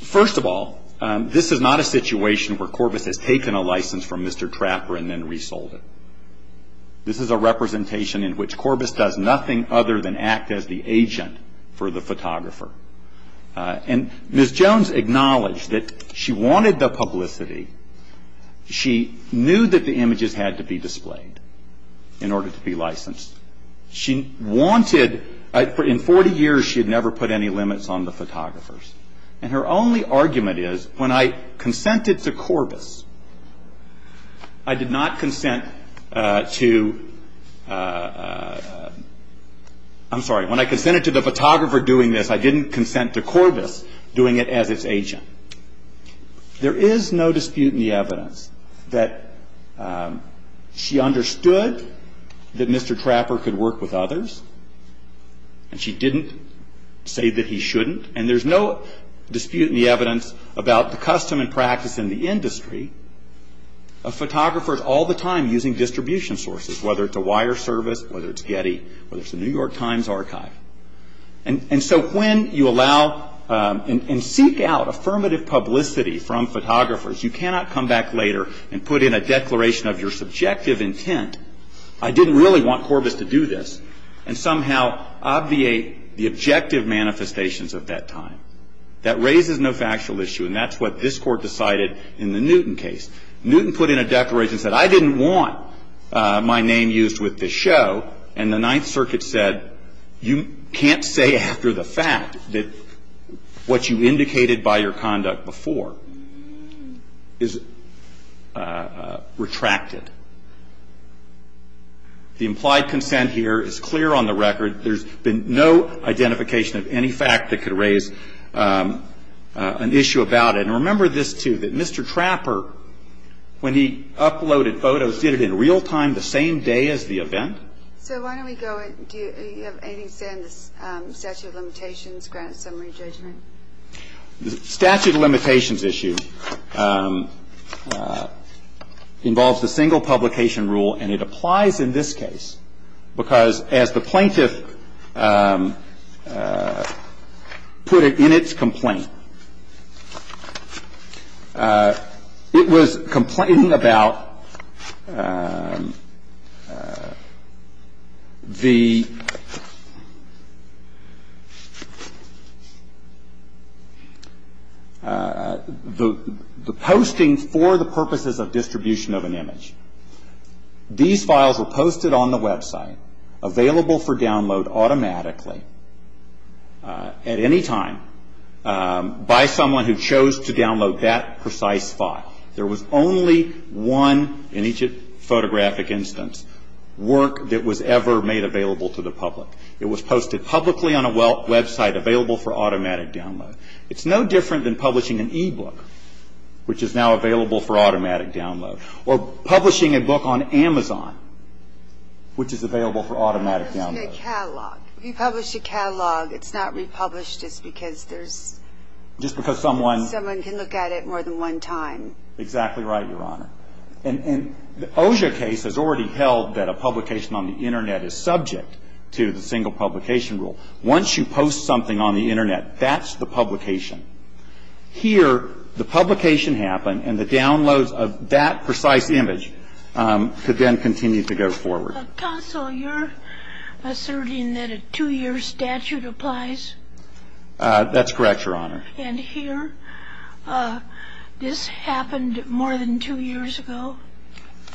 First of all, this is not a situation where Corbett has taken a license from Mr. Trapper and then resold it. This is a representation in which Corbett does nothing other than act as the agent for the photographer. And Ms. Jones acknowledged that she wanted the publicity. She knew that the images had to be displayed in order to be licensed. And Ms. Jones did not consent to Corbett doing this. She wanted-in 40 years she had never put any limits on the photographers. And her only argument is, when I consented to Corbett, I did not consent to-I'm sorry. When I consented to the photographer doing this, I didn't consent to Corbett doing it as its agent. There is no dispute in the evidence that she understood that Mr. Trapper could work with others. And she didn't say that he shouldn't. And there's no dispute in the evidence about the custom and practice in the industry of photographers all the time using distribution sources, whether it's a wire service, whether it's Getty, whether it's the New York Times archive. And so when you allow and seek out affirmative publicity from photographers, you cannot come back later and put in a declaration of your subjective intent, I didn't really want Corbett to do this, and somehow obviate the objective manifestations of that time. That raises no factual issue, and that's what this court decided in the Newton case. Newton put in a declaration and said, I didn't want my name used with this show. And the Ninth Circuit said, you can't say after the fact that what you indicated by your conduct before is retracted. The implied consent here is clear on the record. There's been no identification of any fact that could raise an issue about it. And remember this, too, that Mr. Trapper, when he uploaded photos, did it in real time the same day as the event. So why don't we go into statute of limitations, grant summary judgment. The statute of limitations issue involves a single publication rule, and it applies in this case, because as the plaintiff put it in its complaint, it was complaining about the postings for the purposes of distribution of an image. These files were posted on the website, available for download automatically, at any time, by someone who chose to download that precise file. There was only one, in each photographic instance, work that was ever made available to the public. It was posted publicly on a website available for automatic download. It's no different than publishing an e-book, which is now available for automatic download. Or publishing a book on Amazon, which is available for automatic download. In a catalog. If you publish a catalog, it's not republished, it's because there's... Just because someone... Someone can look at it more than one time. Exactly right, Your Honor. And the OSHA case has already held that a publication on the Internet is subject to the single publication rule. Once you post something on the Internet, that's the publication. Here, the publication happened, and the downloads of that precise image could then continue to go forward. Counsel, you're asserting that a two-year statute applies? That's correct, Your Honor. And here, this happened more than two years ago?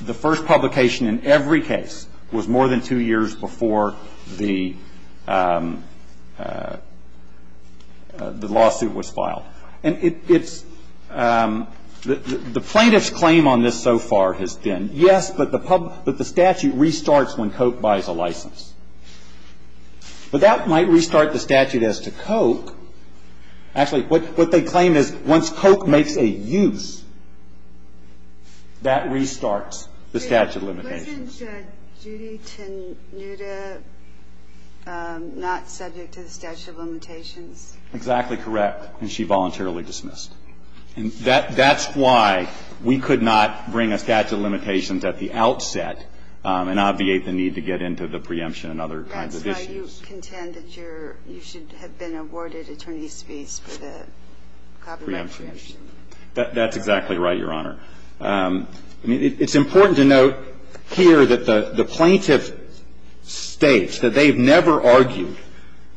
The first publication in every case was more than two years before the lawsuit was filed. And it's... The plaintiff's claim on this so far has been, yes, but the statute restarts when COAP buys a license. But that might restart the statute as to COAP. Actually, what they claim is, once COAP makes a use, that restarts the statute of limitations. Exactly correct. And she voluntarily dismissed. And that's why we could not bring a statute of limitations at the outset and obviate the need to get into the preemption and other kinds of issues. Counsel, you contend that you should have been awarded attorney's fees for the copyright infringement. That's exactly right, Your Honor. It's important to note here that the plaintiff states that they've never argued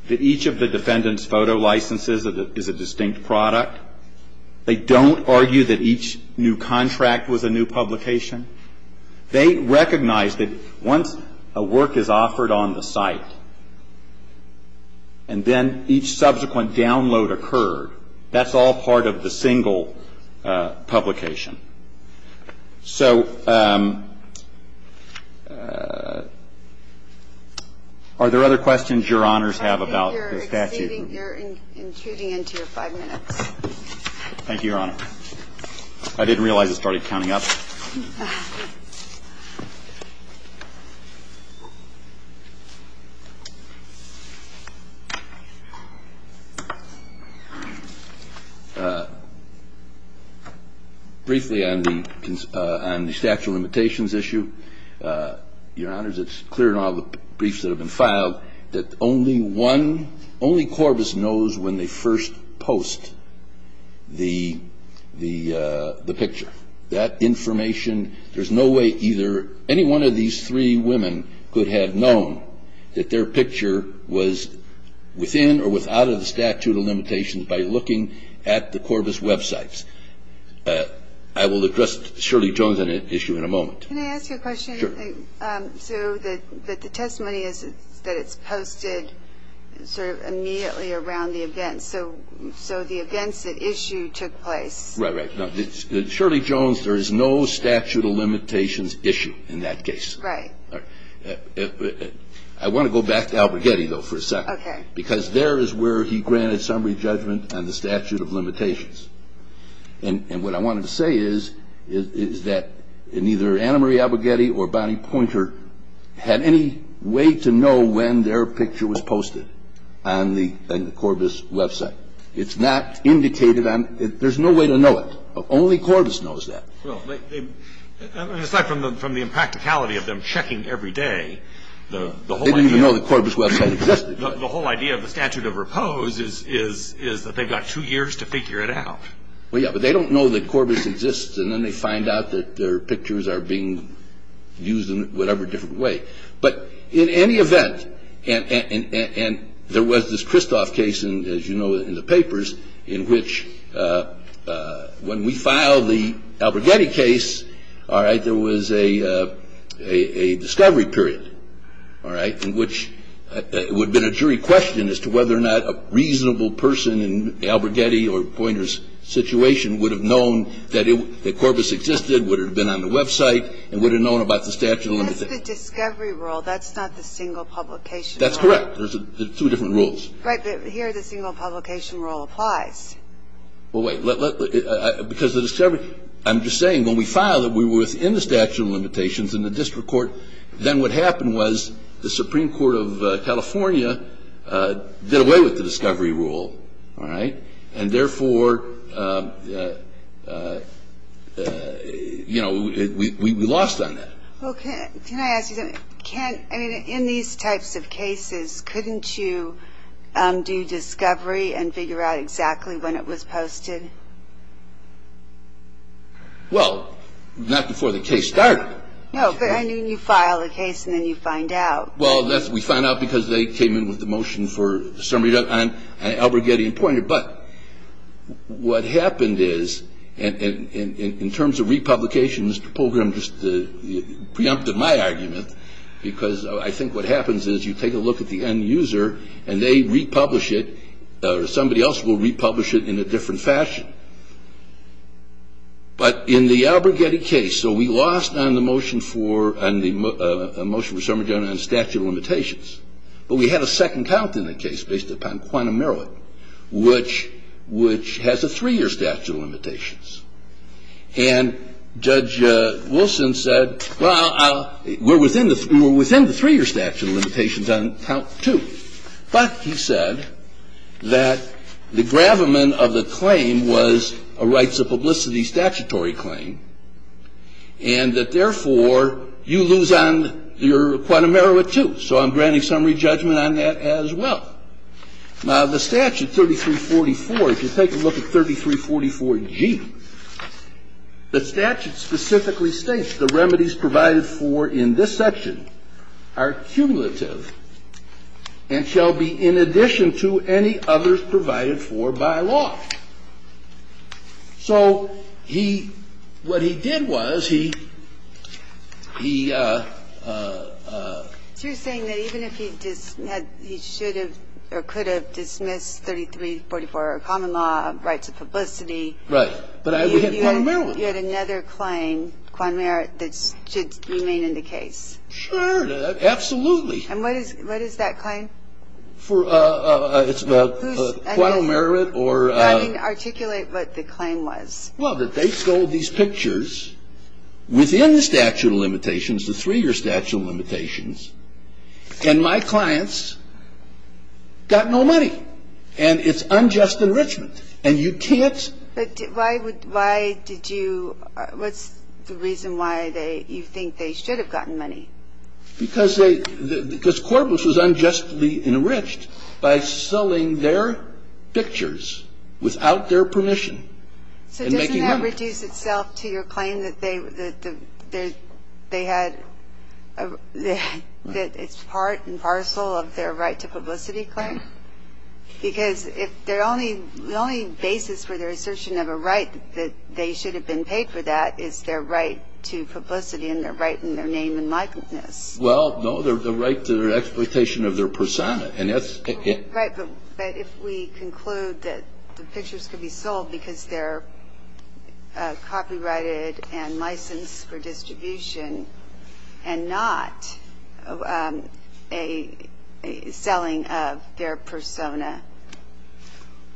that each of the defendant's photo licenses is a distinct product. They don't argue that each new contract was a new publication. They recognize that once a work is offered on the site, and then each subsequent download occurred, that's all part of the single publication. So, are there other questions Your Honors have about the statute? They're intuiting into your five minutes. Thank you, Your Honor. I didn't realize it started counting up. Briefly on the statute of limitations issue, Your Honors, it's clear in all the briefs that have been filed that only Corvus knows when they first post the picture. That information, there's no way either any one of these three women could have known that their picture was within or without a statute of limitations by looking at the Corvus websites. I will address Shirley Jones' issue in a moment. Can I ask you a question? Sure. So, the testimony is that it's posted sort of immediately around the event. So, the events that issued took place. Right, right. Now, Shirley Jones, there is no statute of limitations issue in that case. Right. All right. I want to go back to Albregetti, though, for a second. Because there is where he granted summary judgment on the statute of limitations. And what I wanted to say is that neither Anna Marie Albregetti or Bonnie Pointer had any way to know when their picture was posted on the Corvus website. It's not indicated on – there's no way to know it. Only Corvus knows that. Well, aside from the impracticality of them checking every day, the whole idea – They didn't even know the Corvus website existed. The whole idea of the statute of repose is that they've got two years to figure it out. Yeah, but they don't know that Corvus exists, and then they find out that their pictures are being used in whatever different way. But in any event, and there was this Kristof case, as you know, in the papers, in which when we filed the Albregetti case, there was a discovery period in which it would have been a jury question as to whether or not a reasonable person in Albregetti or Pointer's situation would have known that Corvus existed, would have been on the website, and would have known about the statute of limitations. It's a discovery rule. That's not the single publication rule. That's correct. There's two different rules. Right, but here the single publication rule applies. Well, wait. I'm just saying, when we filed it, we were within the statute of limitations in the district court. Then what happened was the Supreme Court of California did away with the discovery rule, and therefore, we lost on that. Can I ask you something? In these types of cases, couldn't you do discovery and figure out exactly when it was posted? Well, not before the case started. No, but I mean, you file the case, and then you find out. Well, we found out because they came in with the motion for summary, and Albregetti and Pointer. But what happened is, in terms of republications, to preempt my argument, because I think what happens is you take a look at the end user, and they republish it, or somebody else will republish it in a different fashion. But in the Albregetti case, so we lost on the motion for summary on statute of limitations. But we had a second count in the case based upon quantum merit, which has a three-year statute of limitations. And Judge Wilson said, well, we're within the three-year statute of limitations on count two. But he said that the gravamen of the claim was a rights of publicity statutory claim, and that, therefore, you lose on your quantum merit, too. So I'm granting summary judgment on that as well. Now, the statute 3344, if you take a look at 3344G, the statute specifically states, the remedies provided for in this section are cumulative and shall be in addition to any others provided for by law. So what he did was he... You're saying that even if he should have or could have dismissed 3344, common law, rights of publicity... Right, but we had quantum merit. You had another claim, quantum merit, that should remain in the case. Sure, absolutely. And what is that claim? It's about quantum merit or... I didn't articulate what the claim was. Well, that they sold these pictures within the statute of limitations, the three-year statute of limitations, and my clients got no money. And it's unjust enrichment. And you can't... But why did you... What's the reason why you think they should have gotten money? Because Corbus was unjustly enriched by selling their pictures without their permission. So doesn't that reduce itself to your claim that they had... that it's part and parcel of their right to publicity, correct? Because the only basis for their assertion of a right that they should have been paid for that is their right to publicity and their right in their name and likeness. Well, no, the right to their exploitation of their persona, and that's... Right, but if we conclude that the pictures could be sold because they're copyrighted and licensed for distribution and not a selling of their persona...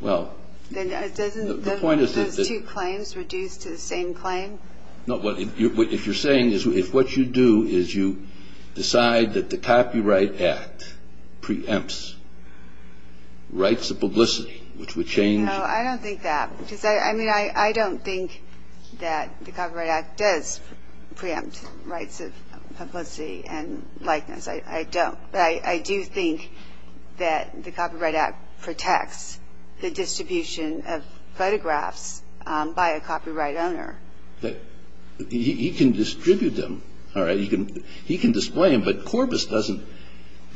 Well, the point is that... Doesn't those two claims reduce to the same claim? No, what you're saying is if what you do is you decide that the Copyright Act preempts rights of publicity, which would change... No, I don't think that. I mean, I don't think that the Copyright Act does preempt rights of publicity and likeness. I don't, but I do think that the Copyright Act protects the distribution of photographs by a copyright owner. He can distribute them, all right? He can display them, but Corbis doesn't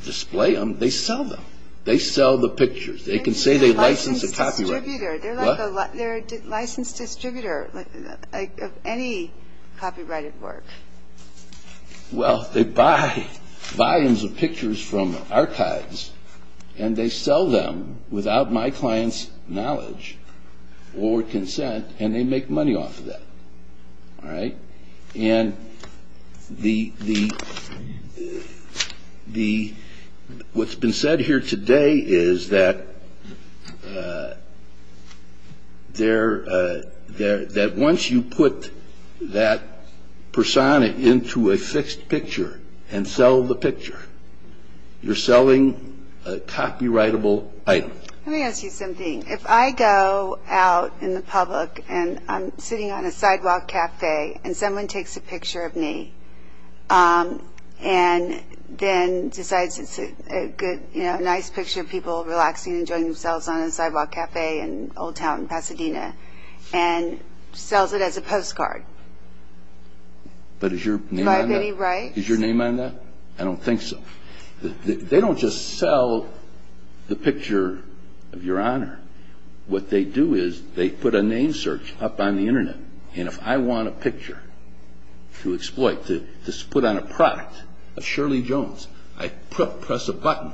display them. They sell them. They sell the pictures. They can say they license a copyright. They're like a licensed distributor of any copyrighted work. Well, they buy volumes of pictures from archives, and they sell them without my client's knowledge or consent, and they make money off of that, all right? And what's been said here today is that once you put that persona into a fixed picture and sell the picture, you're selling a copyrightable item. Let me ask you something. If I go out in the public and I'm sitting on a sidewalk cafe and someone takes a picture of me and then decides it's a nice picture of people relaxing and enjoying themselves on a sidewalk cafe in Old Town, Pasadena, and sells it as a postcard, do I have any right? Is your name on that? I don't think so. They don't just sell the picture of your honor. What they do is they put a name search up on the Internet, and if I want a picture to exploit, to put on a product of Shirley Jones, I press a button,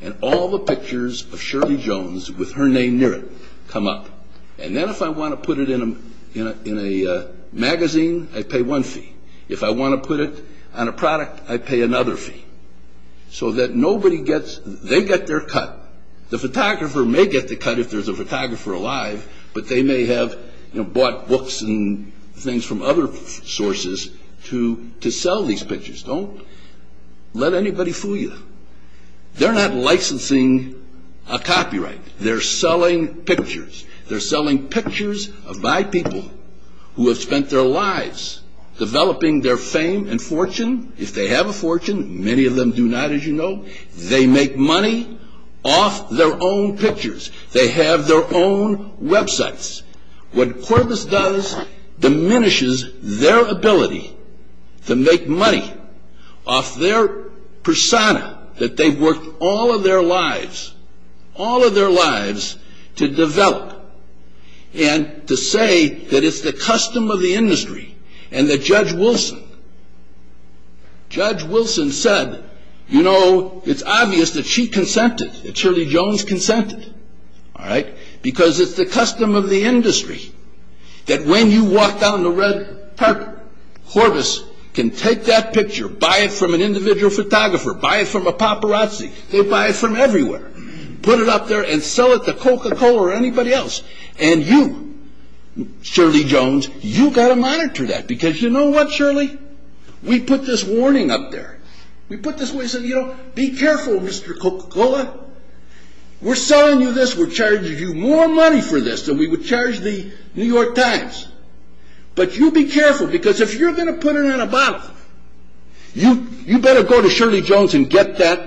and all the pictures of Shirley Jones with her name near it come up. And then if I want to put it in a magazine, I pay one fee. If I want to put it on a product, I pay another fee. So that nobody gets, they get their cut. The photographer may get the cut if there's a photographer alive, but they may have bought books and things from other sources to sell these pictures. Don't let anybody fool you. They're not licensing a copyright. They're selling pictures. They're selling pictures by people who have spent their lives developing their fame and fortune. If they have a fortune, many of them do not, as you know. They make money off their own pictures. They have their own websites. What Corpus does diminishes their ability to make money off their persona, that they've worked all of their lives, all of their lives to develop, and to say that it's the custom of the industry, and that Judge Wilson, Judge Wilson said, you know, it's obvious that she consented, that Shirley Jones consented, because it's the custom of the industry that when you walk down the red carpet, Corpus can take that picture, buy it from an individual photographer, buy it from a paparazzi. They'll buy it from everywhere. Put it up there and sell it to Coca-Cola or anybody else. And you, Shirley Jones, you've got to monitor that, because you know what, Shirley? We put this warning up there. We put this warning, saying, you know, be careful, Mr. Coca-Cola. We're selling you this. We're charging you more money for this than we would charge the New York Times. But you be careful, because if you're going to put it in a bottle, you better go to Shirley Jones and get that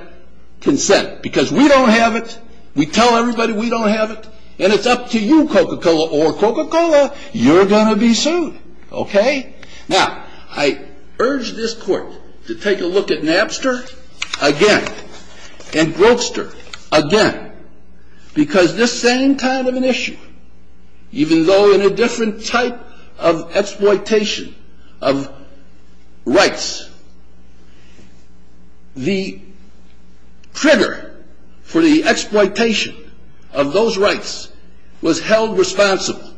consent, because we don't have it. We tell everybody we don't have it, and it's up to you, Coca-Cola or Coca-Cola. You're going to be sued. Okay? Now, I urge this court to take a look at Napster again, and Grokster again, because this same kind of an issue, even though in a different type of exploitation of rights, the trigger for the exploitation of those rights was held responsible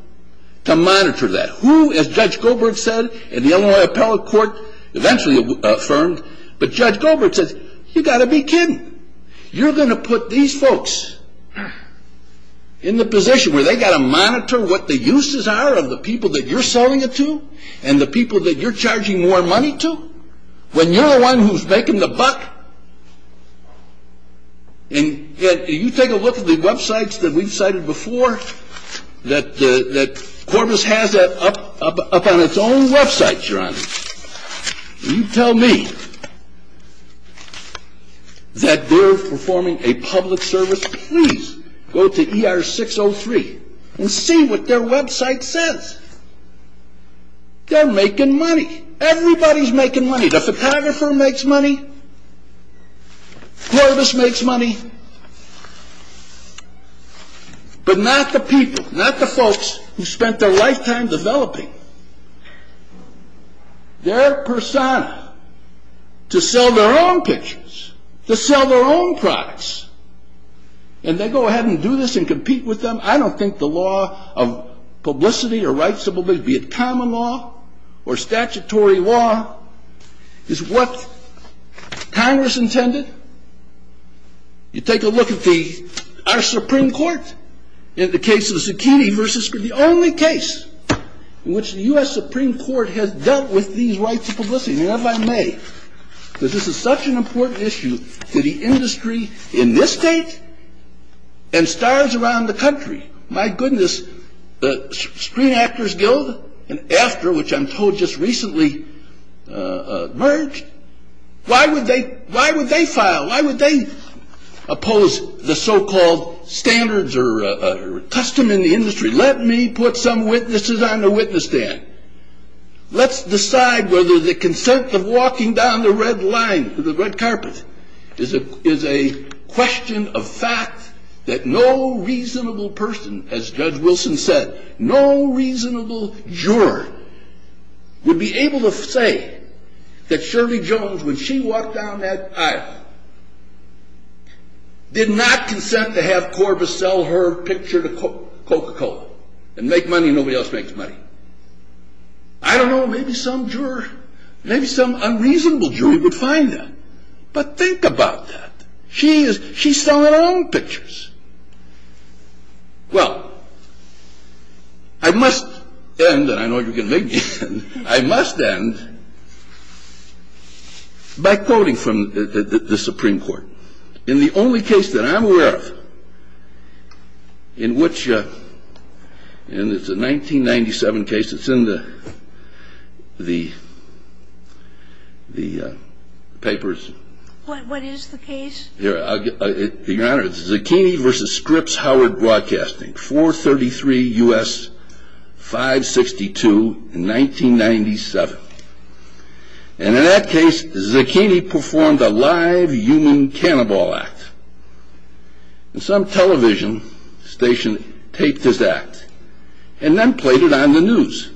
to monitor that. Who, as Judge Goldberg said, and the Illinois Appellate Court eventually affirmed, but Judge Goldberg said, you've got to be kidding. You're going to put these folks in the position where they've got to monitor what the uses are of the people that you're selling it to and the people that you're charging more money to, when you're the one who's making the buck? And you take a look at the websites that we've cited before, that Corpus has that up on its own website, Your Honor. You tell me that they're performing a public service. Please go to ER 603 and see what their website says. They're making money. Everybody's making money. The photographer makes money. Corpus makes money. But not the people, not the folks who spent their lifetime developing their persona to sell their own pictures, to sell their own products, and they go ahead and do this and compete with them. I don't think the law of publicity or rights of publicity, be it common law or statutory law, is what Congress intended. You take a look at our Supreme Court in the case of the zucchini versus the only case in which the U.S. Supreme Court has dealt with these rights of publicity, because this is such an important issue to the industry in this state and stars around the country. My goodness, Screen Actors Guild and AFTRA, which I'm told just recently merged, why would they file? Why would they oppose the so-called standards or custom in the industry? Let me put some witnesses on the witness stand. Let's decide whether the consent of walking down the red carpet is a question of fact that no reasonable person, as Judge Wilson said, no reasonable juror would be able to say that Shirley Jones, when she walked down that aisle, did not consent to have Corbis sell her picture to Coca-Cola and make money nobody else makes money. I don't know, maybe some juror, maybe some unreasonable juror would find that. But think about that. She's selling her own pictures. Well, I must end, I know you're going to make me end, I must end by quoting from the Supreme Court. In the only case that I'm aware of in which, and it's a 1997 case, it's in the papers. What is the case? Your Honor, it's Zucchini v. Scripps Howard Broadcasting, 433 U.S. 562, 1997. And in that case, Zucchini performed a live union cannibal act. And some television station taped his act and then played it on the news.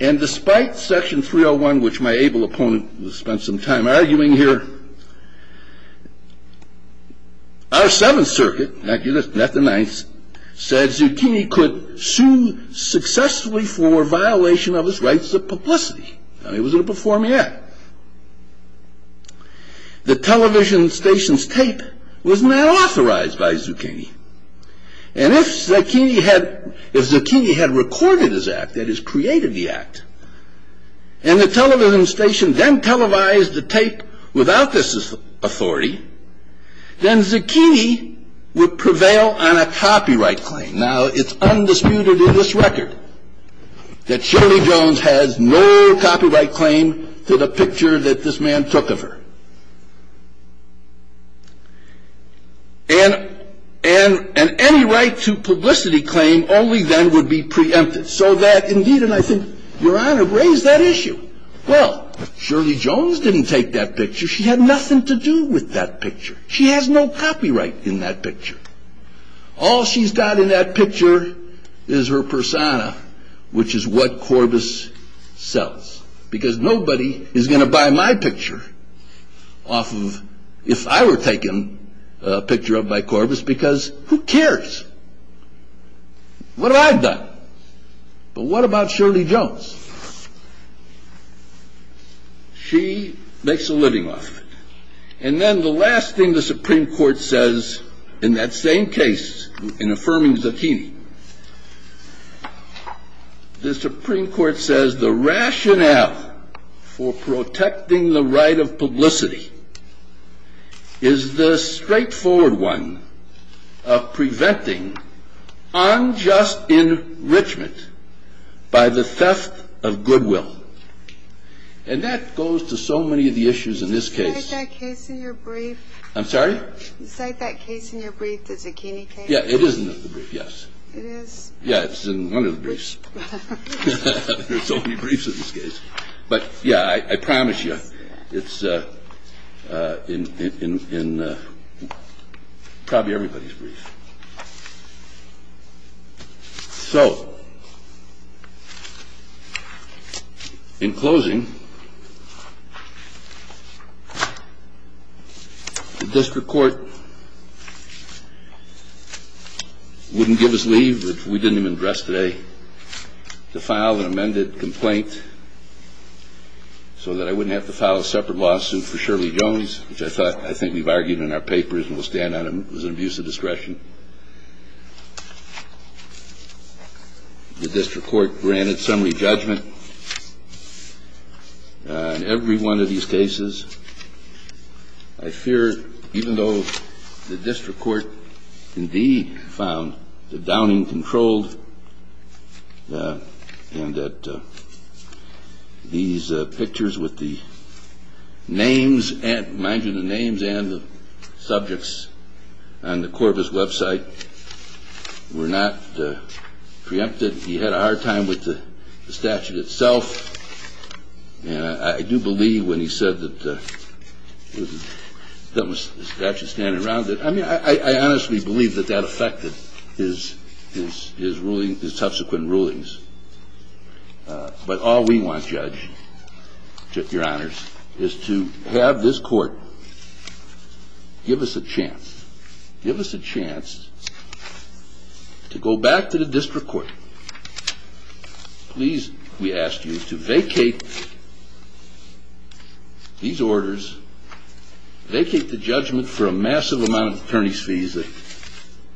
And despite Section 301, which my able opponent has spent some time arguing here, our Seventh Circuit, not the Ninth, said Zucchini could sue successfully for violation of his rights of publicity. And he was going to perform the act. The television station's tape was not authorized by Zucchini. And if Zucchini had recorded his act, that is, created the act, and the television station then televised the tape without this authority, then Zucchini would prevail on a copyright claim. Now, it's undisputed in this record that Shirley Jones has no copyright claim to the picture that this man took of her. And any right to publicity claim only then would be preempted. So that, indeed, and I think, Your Honor, raise that issue. Well, Shirley Jones didn't take that picture. She had nothing to do with that picture. She has no copyright in that picture. All she's got in that picture is her persona, which is what Corbis sells. Because nobody is going to buy my picture off of, if I were taken a picture of by Corbis, because who cares? What have I done? But what about Shirley Jones? She makes a living off of it. And then the last thing the Supreme Court says in that same case, in affirming Zucchini, the Supreme Court says the rationale for protecting the right of publicity is the straightforward one of preventing unjust enrichment by the theft of goodwill. And that goes to so many of the issues in this case. Is that case in your brief? I'm sorry? Is that case in your brief the Zucchini case? Yeah, it is in the brief, yes. It is? Yeah, it's in one of the briefs. There are so many briefs in this case. But, yeah, I promise you it's in probably everybody's brief. So, in closing, the District Court wouldn't give us leave if we didn't even address today to file an amended complaint so that I wouldn't have to file a separate lawsuit for Shirley Jones, which I think we've argued in our papers and will stand on as an abuse of discretion. The District Court granted summary judgment on every one of these cases. I fear, even though the District Court indeed found the downing controlled and that these pictures with the names and the subjects on the Corbis website were not preempted. He had a hard time with the statute itself. And I do believe when he said that there was a statute standing around it, I mean, I honestly believe that that affected his subsequent rulings. But all we want, Judge, to your honors, is to have this court give us a chance, give us a chance to go back to the District Court. Please, we ask you to vacate these orders, vacate the judgment for a massive amount of attorneys' fees that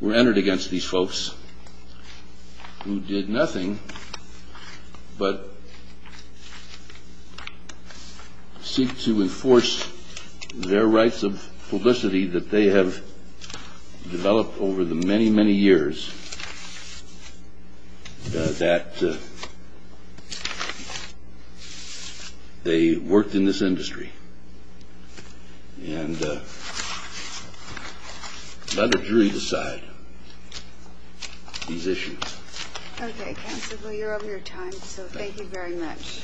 were entered against these folks who did nothing but seek to enforce their rights of publicity that they have developed over the many, many years that they worked in this industry and let the jury decide these issues. Okay, counsel, you're over your time, so thank you very much.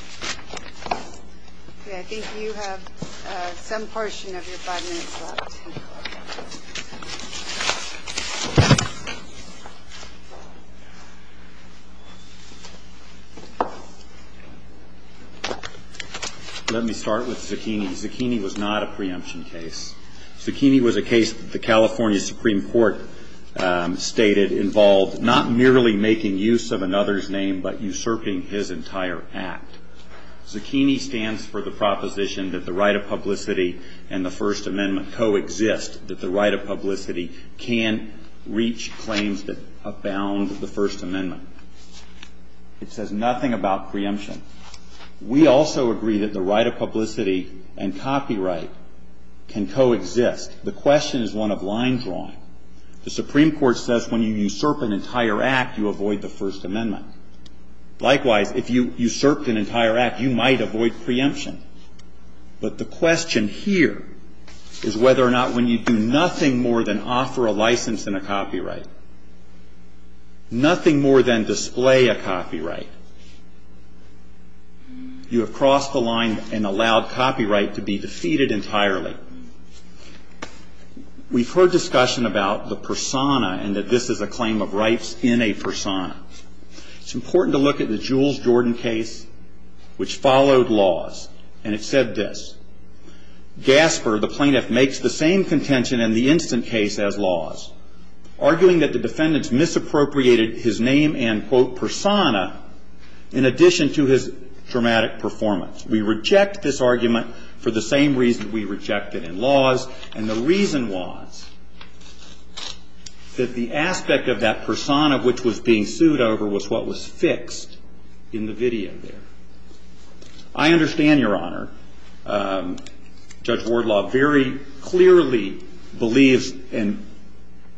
Okay, I think you have some portion of your five minutes left. Let me start with Zucchini. Zucchini was not a preemption case. Zucchini was a case that the California Supreme Court stated involved not merely making use of another's name but usurping his entire act. Zucchini stands for the proposition that the right of publicity and the First Amendment coexist, that the right of publicity can reach claims that abound with the First Amendment. It says nothing about preemption. We also agree that the right of publicity and copyright can coexist. The question is one of lines wrong. The Supreme Court says when you usurp an entire act, you avoid the First Amendment. Likewise, if you usurped an entire act, you might avoid preemption. But the question here is whether or not when you do nothing more than offer a license and a copyright, nothing more than display a copyright, you have crossed the line and allowed copyright to be defeated entirely. We've heard discussion about the persona and that this is a claim of rights in a persona. It's important to look at the Jules Jordan case, which followed laws, and it said this. Gasper, the plaintiff, makes the same contention in the instant case as laws, arguing that the defendants misappropriated his name and, quote, persona in addition to his dramatic performance. We reject this argument for the same reason we reject it in laws. And the reason was that the aspect of that persona which was being sued over was what was fixed in the video there. I understand, Your Honor, Judge Wardlaw very clearly believes that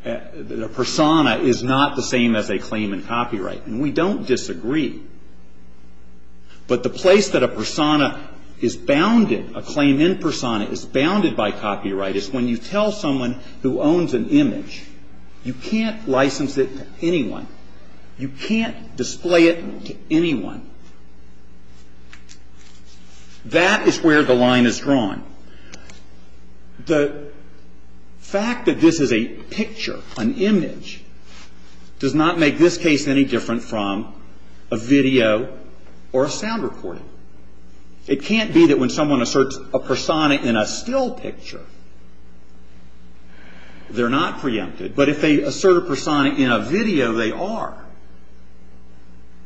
a persona is not the same that they claim in copyright. And we don't disagree. But the place that a persona is bounded, a claim in persona is bounded by copyright is when you tell someone who owns an image, you can't license it to anyone. You can't display it to anyone. That is where the line is drawn. The fact that this is a picture, an image, does not make this case any different from a video or a sound recording. It can't be that when someone asserts a persona in a still picture, they're not preempted. But if they assert a persona in a video, they are.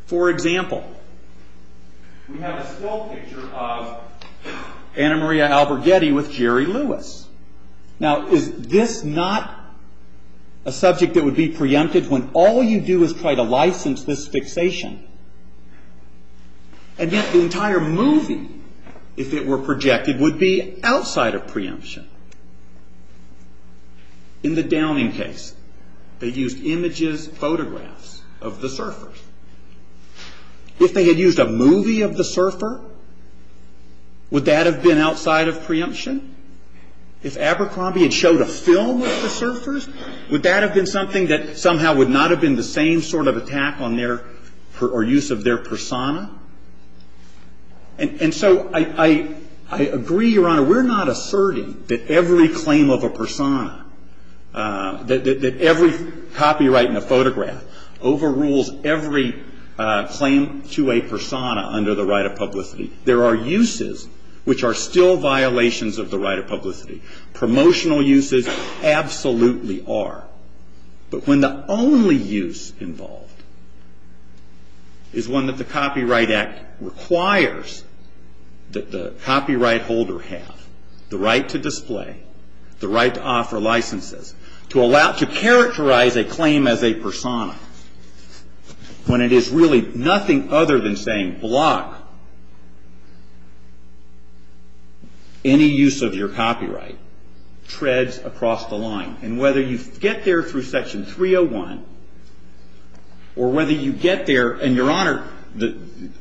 For example, we have a still picture of Anna Maria Alberghetti with Jerry Lewis. Now, is this not a subject that would be preempted when all you do is try to license this fixation? And yet the entire movie, if it were projected, would be outside of preemption. Now, if they had used a movie of the surfer, would that have been outside of preemption? In the Downing case, they used images, photographs of the surfers. If they had used a movie of the surfer, would that have been outside of preemption? If Abercrombie had shown a film of the surfers, would that have been something that somehow would not have been the same sort of attack on their, or use of their persona? It's not that every claim of a persona, that every copyright in a photograph overrules every claim to a persona under the right of publicity. There are uses which are still violations of the right of publicity. Promotional uses absolutely are. But when the only use involved is one that the Copyright Act requires that the copyright holder have, the right to display, the right to offer licenses, to allow, to characterize a claim as a persona, when it is really nothing other than saying block any use of your copyright, treads across the line. And whether you get there through Section 301, or whether you get there, and Your Honor,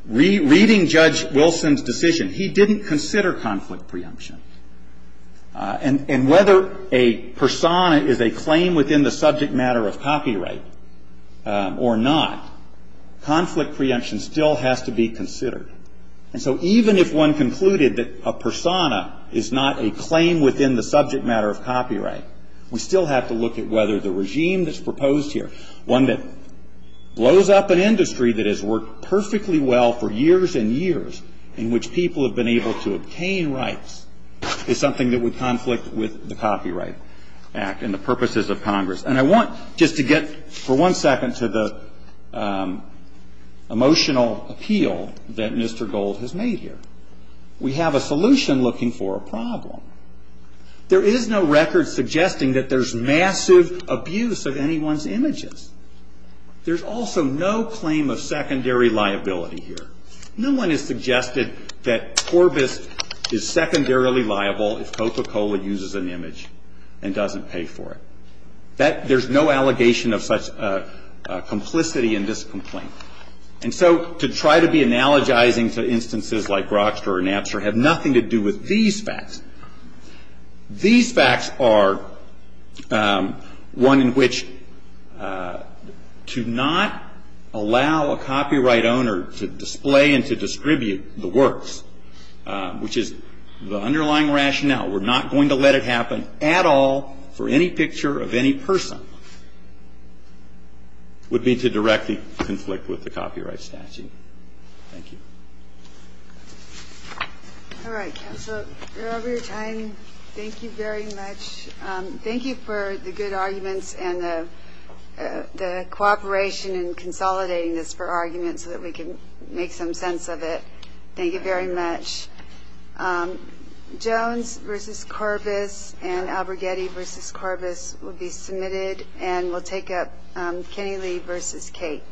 reading Judge Wilson's decision, he didn't consider conflict preemption. And whether a persona is a claim within the subject matter of copyright or not, conflict preemption still has to be considered. And so even if one concluded that a persona is not a claim within the subject matter of copyright, we still have to look at whether the regime that's proposed here, one that blows up an industry that has worked perfectly well for years and years, in which people have been able to obtain rights, is something that would conflict with the Copyright Act and the purposes of Congress. And I want just to get for one second to the emotional appeal that Mr. Gold has made here. We have a solution looking for a problem. There is no record suggesting that there's massive abuse of anyone's images. There's also no claim of secondary liability here. No one has suggested that Corbis is secondarily liable if Coca-Cola uses an image and doesn't pay for it. There's no allegation of such complicity in this complaint. And so to try to be analogizing to instances like Broxford or Napster had nothing to do with these facts. These facts are one in which to not allow a copyright owner to display and to distribute the works, which is the underlying rationale. We're not going to let it happen at all for any picture of any person. It would be to directly conflict with the copyright statute. Thank you. All right. So, Robert, I thank you very much. Thank you for the good arguments and the cooperation in consolidating this for argument so that we can make some sense of it. Thank you very much. Jones v. Corbis and Albregetti v. Corbis will be submitted, and we'll take up Kinney-Lee v. Cate.